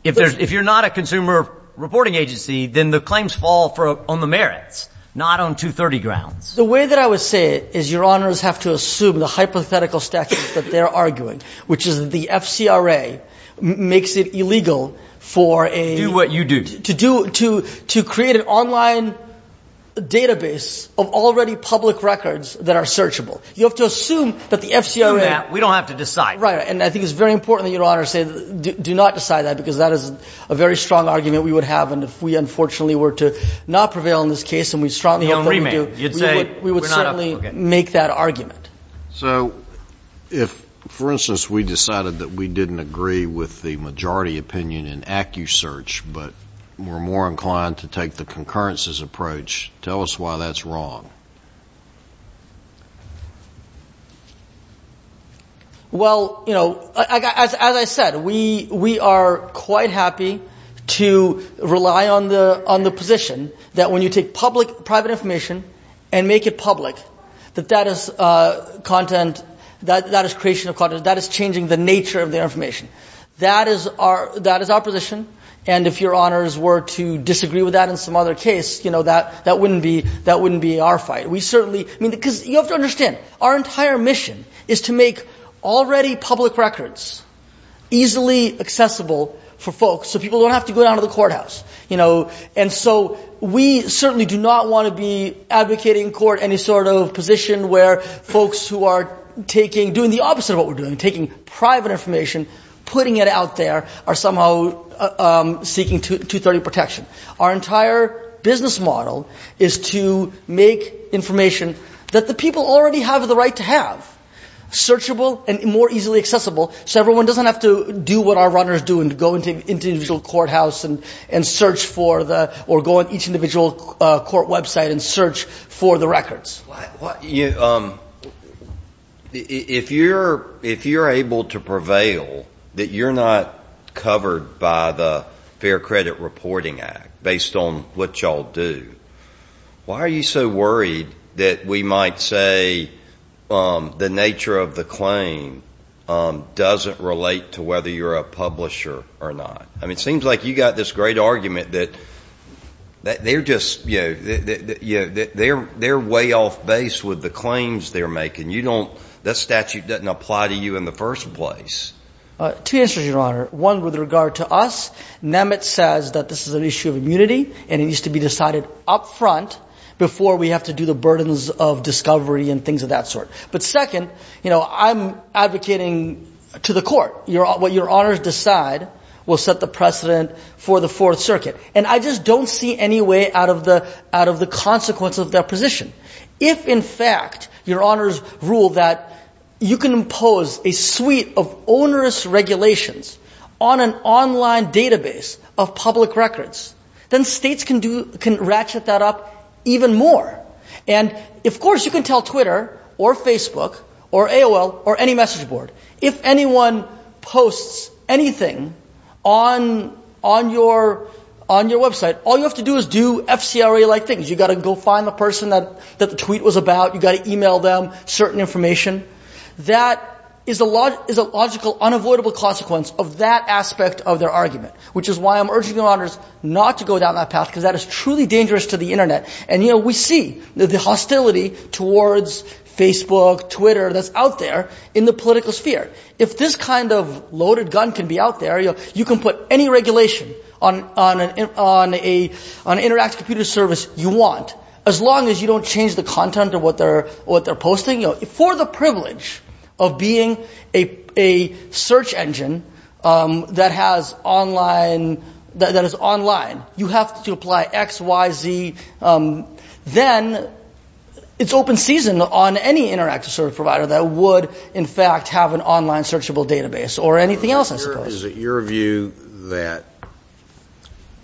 if you're not a consumer reporting agency, then the claims fall on the merits, not on 230 grounds. The way that I would say it is your honors have to assume the hypothetical statute that they're arguing, which is the FCRA makes it illegal for a... Do what you do. To do... To create an online database of already public records that are searchable. You have to assume that the FCRA... We don't have to decide. Right. And I think it's very important that your honors say do not decide that because that is a very strong argument we would have and if we unfortunately were to not prevail in this case and we strongly hope that we do, we would certainly make that argument. So, if, for instance, we decided that we didn't agree with the majority opinion in AccuSearch, but we're more inclined to take the concurrences approach, tell us why that's wrong. Well, as I said, we are quite happy to rely on the position that when you take public, private information and make it public that that is content, that is creation of content, that is changing the nature of the information. That is our position and if your honors were to disagree with that in some other case, that wouldn't be our fight. We certainly, I mean, because you have to understand our entire mission is to make already public records easily accessible for folks so people don't have to go down to the courthouse, you know, and so we certainly do not want to be advocating in court any sort of position where folks who are taking, doing the opposite of what we're doing, taking private information, putting it out there, are somehow seeking 230 protection. Our entire business model is to make information that the people already have the right to have, searchable and more easily accessible so everyone doesn't have to do what our runners do and go into individual courthouse and search for the, or go on each individual court website and search for the records. If you're able to prevail that you're not covered by the Fair Credit Reporting Act based on what y'all do, why are you so worried that we might say the nature of the claim doesn't relate to whether you're a publisher or not? I mean, it seems like you got this great argument that they're just, you know, they're way off base with the claims they're making. You don't, that statute doesn't apply to you in the first place. Two answers, Your Honor. One with regard to us. Nemitz says that this is an issue of immunity and it needs to be decided up front before we have to do the burdens of discovery and things of that sort. But second, you know, I'm advocating to the court what your honors decide will set the precedent for the Fourth Circuit. And I just don't see any way out of the consequence of their position. If in fact your honors rule that you can impose a suite of onerous regulations on an online database of public records, then states can ratchet that up even more. And of course you can tell Twitter or Facebook or AOL or any message board, if anyone posts anything on your website, all you have to do is do FCRA-like things. You've got to go find the person that the tweet was about. You've got to email them certain information. That is a logical unavoidable consequence of that aspect of their argument, which is why I'm urging your honors not to go down that path because that is truly dangerous to the internet. And you know we see the hostility towards Facebook, Twitter that's out there in the political sphere. If this kind of loaded gun can be out there, you can put any regulation on an interactive computer service you want, as long as you don't change the content of what they're posting. For the privilege of being a search engine that has online that is online, you have to apply X, Y, Z then it's open season on any interactive service provider that would in fact have an online searchable database or anything else I suppose. Is it your view that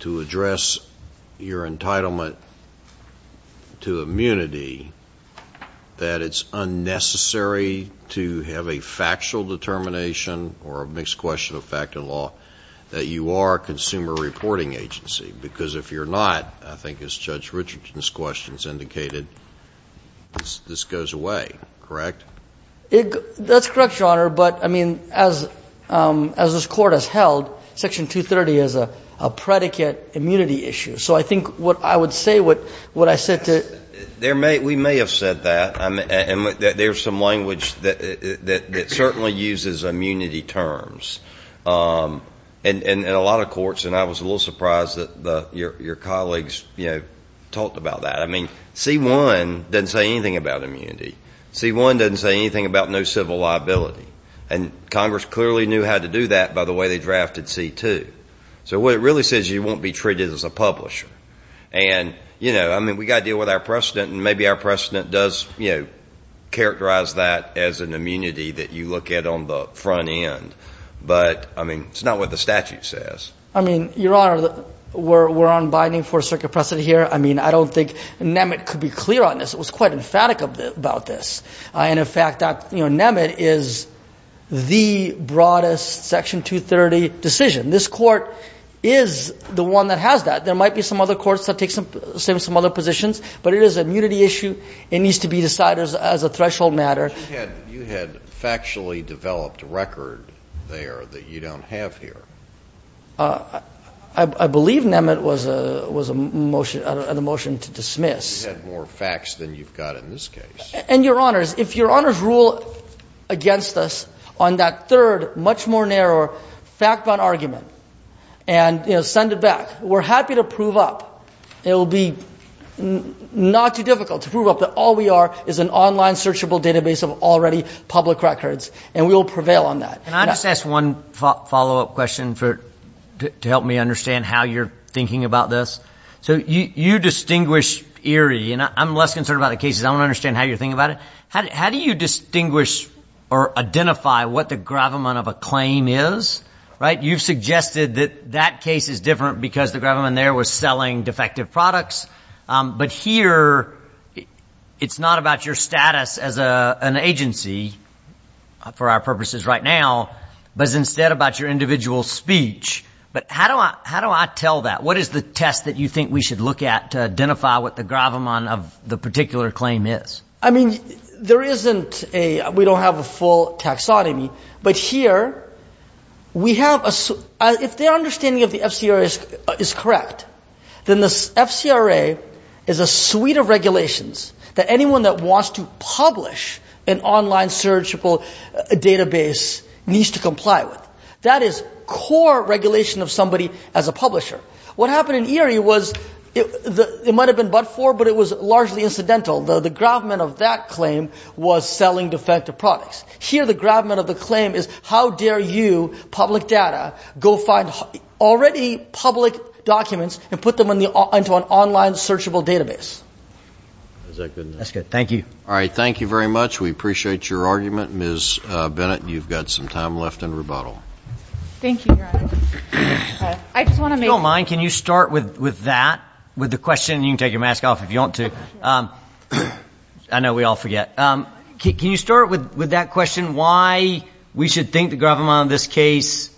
to address your entitlement to immunity that it's unnecessary to have a factual determination or a mixed question of fact and law that you are a consumer reporting agency? Because if you're not I think as Judge Richardson's questions indicated this goes away, correct? That's correct your honor, but I mean as this court has held, section 230 is a predicate immunity issue. So I think what I would say what I said to We may have said that there's some language that certainly uses immunity terms in a lot of courts and I was a little surprised that your colleagues talked about that. I mean C1 doesn't say anything about immunity. C1 doesn't say anything about no civil liability and Congress clearly knew how to do that by the way they drafted C2 so what it really says you won't be treated as a publisher and you know I mean we gotta deal with our precedent and maybe our precedent does characterize that as an immunity that you look at on the front end but I mean it's not what the statute says. I mean your honor we're unbinding for a circuit precedent here. I mean I don't think Nemet could be clear on this. It was quite emphatic about this and in fact Nemet is the broadest section 230 decision. This court is the one that has that there might be some other courts that take some other positions but it is an immunity issue. It needs to be decided as a threshold matter. You had factually developed record there that you don't have here I believe Nemet was a motion to dismiss You had more facts than you've got in this case. And your honors if your honors rule against us on that third much more narrow fact bound argument and send it back. We're happy to prove up. It will be not too difficult to prove up that all we are is an online searchable database of already public records and we will prevail on that. Can I just ask one follow up question to help me understand how you're thinking about this You distinguish I'm less concerned about the cases. I don't understand how you're thinking about it. How do you distinguish or identify what the gravamen of a claim is right? You've suggested that that case is different because the gravamen there was selling defective products but here it's not about your status as an agency for our purposes right now but instead about your individual speech. But how do I tell that? What is the test that you think we should look at to identify what the gravamen of the particular claim is? I mean there isn't a we don't have a full taxonomy but here we have a if the understanding of the FCRA is correct then the FCRA is a suite of regulations that anyone that wants to publish an online searchable database needs to comply with. That is core regulation of somebody as a publisher What happened in Erie was it might have been but for but it was largely incidental. The gravamen of that claim was selling defective products. Here the gravamen of the claim is how dare you, public data, go find already public documents and put them into an online searchable database. Thank you. Alright thank you very much we appreciate your argument. Ms. Bennett you've got some time left in rebuttal. Thank you. I just want to make... If you don't mind can you start with that? With the question and you can take your mask off if you want to I know we all forget. Can you start with that question? Why we should think the gravamen of this case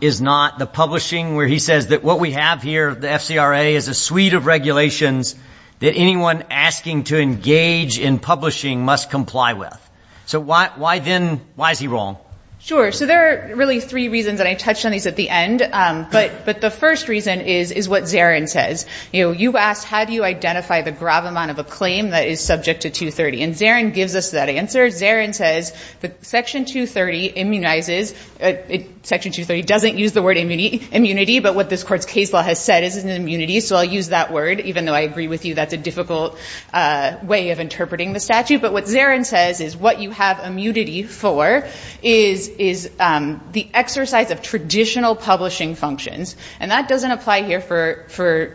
is not the publishing where he says that what we have here the FCRA is a suite of regulations that anyone asking to engage in publishing must comply with. So why then why is he wrong? Sure so there are really three reasons and I touched on these at the end but the first reason is what Zarin says you asked how do you identify the gravamen of a claim that is subject to 230 and Zarin gives us that answer Zarin says that section 230 immunizes section 230 doesn't use the word immunity but what this court's case law has said is an immunity so I'll use that word even though I agree with you that's a difficult way of interpreting the statute but what Zarin says is what you have immunity for is the exercise of traditional publishing functions and that has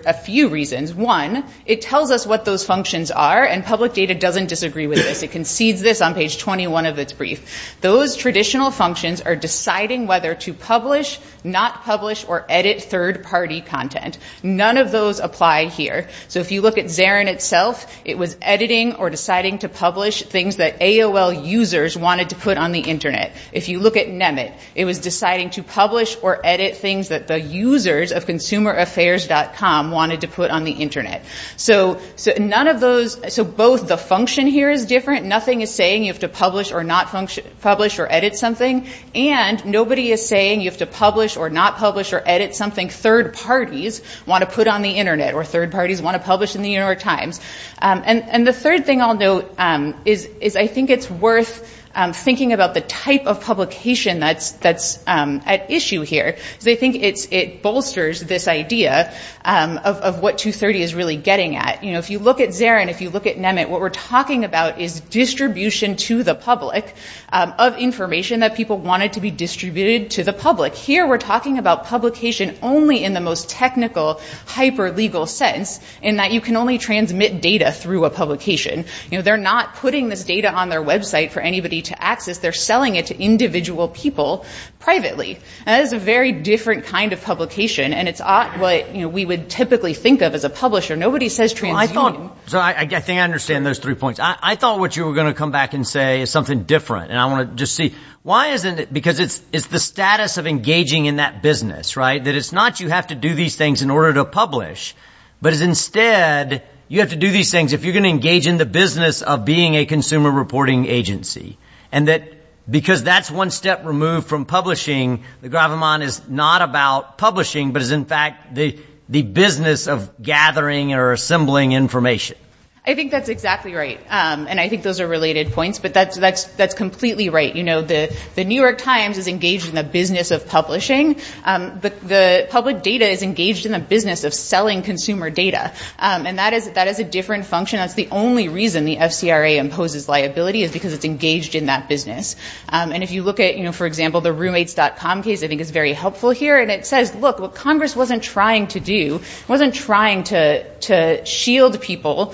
a few reasons one it tells us what those functions are and public data doesn't disagree with this it concedes this on page 21 of its brief those traditional functions are deciding whether to publish not publish or edit third party content none of those apply here so if you look at Zarin itself it was editing or deciding to publish things that AOL users wanted to put on the internet if you look at Nemet it was deciding to publish or edit things that the users of consumer affairs.com wanted to put on the internet so both the function here is different nothing is saying you have to publish or not publish or edit something and nobody is saying you have to publish or not publish or edit something third parties want to put on the internet or third parties want to publish in the New York Times and the third thing I'll note is I think it's worth thinking about the type of publication that's at issue here because I think it bolsters this idea of what 230 is really getting at if you look at Zarin if you look at Nemet what we're talking about is distribution to the public of information that people wanted to be distributed to the public here we're talking about publication only in the most technical hyper legal sense in that you can only transmit data through a publication they're not putting this data on their website for anybody to access they're selling it to individual people privately that is a very different kind of publication and it's what we would typically think of as a publisher nobody says I think I understand those three points I thought what you were going to come back and say is something different and I want to just see why isn't it because it's the status of engaging in that business right that it's not you have to do these things in order to publish but it's instead you have to do these things if you're going to engage in the business of being a consumer reporting agency and that because that's one step removed from publishing the Graviman is not about publishing but is in fact the business of gathering or assembling information I think that's exactly right and I think those are related points but that's completely right you know the New York Times is engaged in the business of publishing but the public data is engaged in the business of selling consumer data and that is a different function that's the only reason the FCRA imposes liability is because it's engaged in that business and if you look at you know for example the roommates.com case I think is very helpful here and it says look what Congress wasn't trying to do wasn't trying to shield people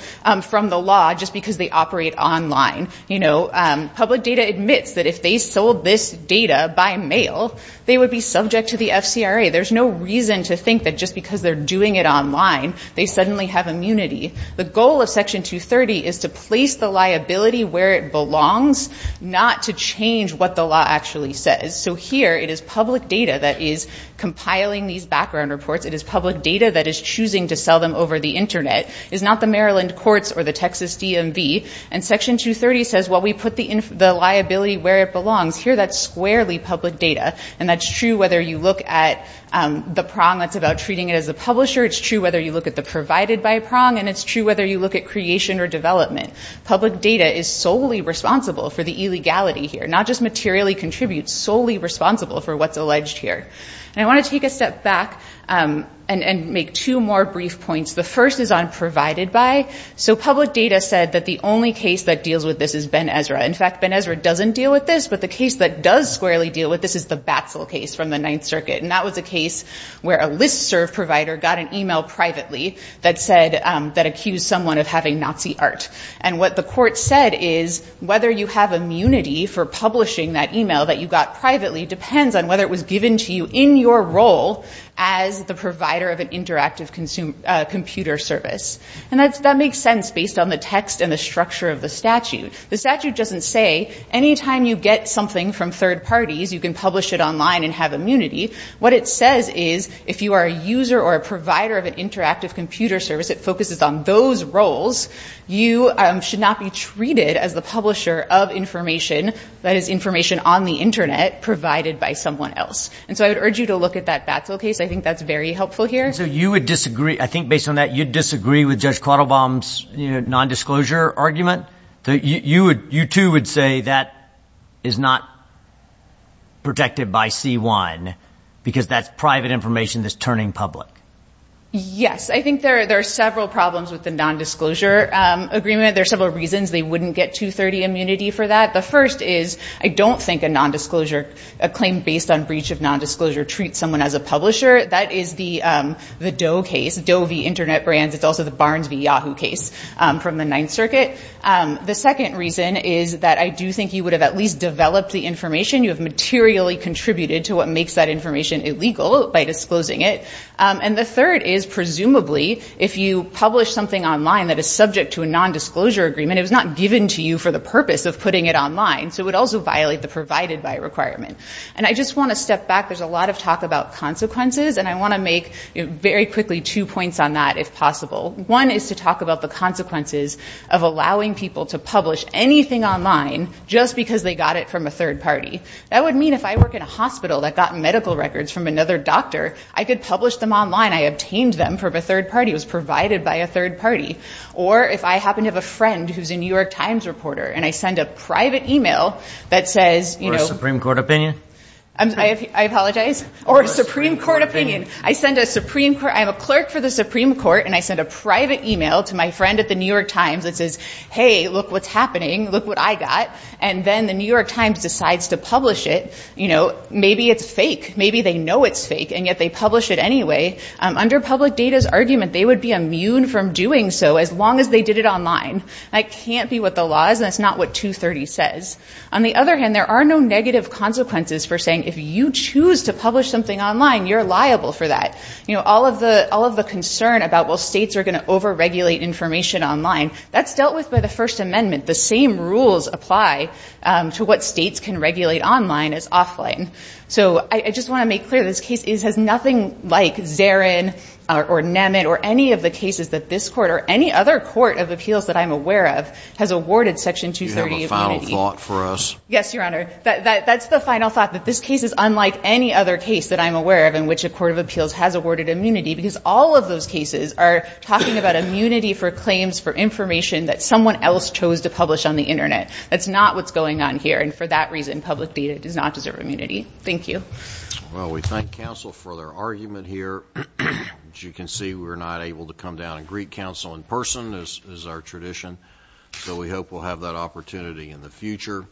from the law just because they operate online you know public data admits that if they sold this data by mail they would be subject to the FCRA there's no reason to think that just because they're doing it online they suddenly have immunity the goal of section 230 is to place the liability where it belongs not to change what the law actually says so here it is public data that is compiling these background reports it is public data that is choosing to sell them over the internet it's not the Maryland courts or the Texas DMV and section 230 says well we put the liability where it belongs here that's squarely public data and that's true whether you look at the prong that's about treating it as a publisher it's true whether you look at the creation or development public data is solely responsible for the illegality here not just materially contribute solely responsible for what's alleged here and I want to take a step back and make two more brief points the first is on provided by so public data said that the only case that deals with this is Ben Ezra in fact Ben Ezra doesn't deal with this but the case that does squarely deal with this is the Batzel case from the 9th circuit and that was a case where a listserv provider got an email privately that said that accused someone of having Nazi art and what the court said is whether you have immunity for publishing that email that you got privately depends on whether it was given to you in your role as the provider of an interactive computer service and that makes sense based on the text and the structure of the statute the statute doesn't say any time you get something from third parties you can publish it online and have immunity what it says is if you are a user or a provider of an interactive computer service it focuses on those roles you should not be treated as the publisher of information that is information on the internet provided by someone else and so I would urge you to look at that Batzel case I think that's very helpful here so you would disagree I think based on that you'd disagree with Judge Quattlebaum's non-disclosure argument you too would say that is not protected by C1 because that's private information that's turning public yes I think there are several problems with the non-disclosure agreement there are several reasons they wouldn't get 230 immunity for that the first is I don't think a non-disclosure a claim based on breach of non-disclosure treats someone as a publisher that is the Doe case Doe v. Internet Brands it's also the Barnes v. Yahoo case from the Ninth Circuit the second reason is that I do think you would have at least developed the information you have materially contributed to what makes that information illegal by disclosing it and the third is presumably if you publish something online that is subject to a non-disclosure agreement it was not given to you for the purpose of putting it online so it would also violate the provided by requirement and I just want to step back there's a lot of talk about consequences and I want to make very quickly two points on that if possible one is to talk about the consequences of allowing people to publish anything online just because they got it from a third party that would mean if I work in a hospital that got medical records from another doctor I could publish them online I obtained them from a third party it was provided by a third party or if I happen to have a friend who's a New York Times reporter and I send a private email that says or a Supreme Court opinion I apologize or a Supreme Court opinion I send a Supreme Court I'm a clerk for the Supreme Court and I send a private email to my friend at the New York Times that says hey look what's happening look what I got and then the New York Times decides to publish it you know maybe it's fake maybe they know it's fake and yet they publish it anyway under public data's argument they would be immune from doing so as long as they did it online that can't be what the law is and that's not what 230 says on the other hand there are no negative consequences for saying if you choose to publish something online you're liable for that you know all of the concern about well states are going to over regulate information online that's dealt with by the first amendment the same rules apply to what states can regulate online as offline so I just want to make clear this case has nothing like Zarin or Nemet or any of the cases that this court or any other court of appeals that I'm aware of has awarded section 230 immunity. You have a final thought for us? Yes your honor that's the final thought that this case is unlike any other case that I'm aware of in which a court of appeals has awarded immunity because all of those cases are talking about immunity for claims for information that someone else chose to publish on the internet. That's not what's going on here and for that reason public data does not deserve immunity. Thank you. Well we thank counsel for their argument here as you can see we're not able to come down and greet counsel in person as is our tradition so we hope we'll have that opportunity in the future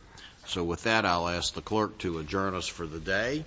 so with that I'll ask the clerk to adjourn us for the day.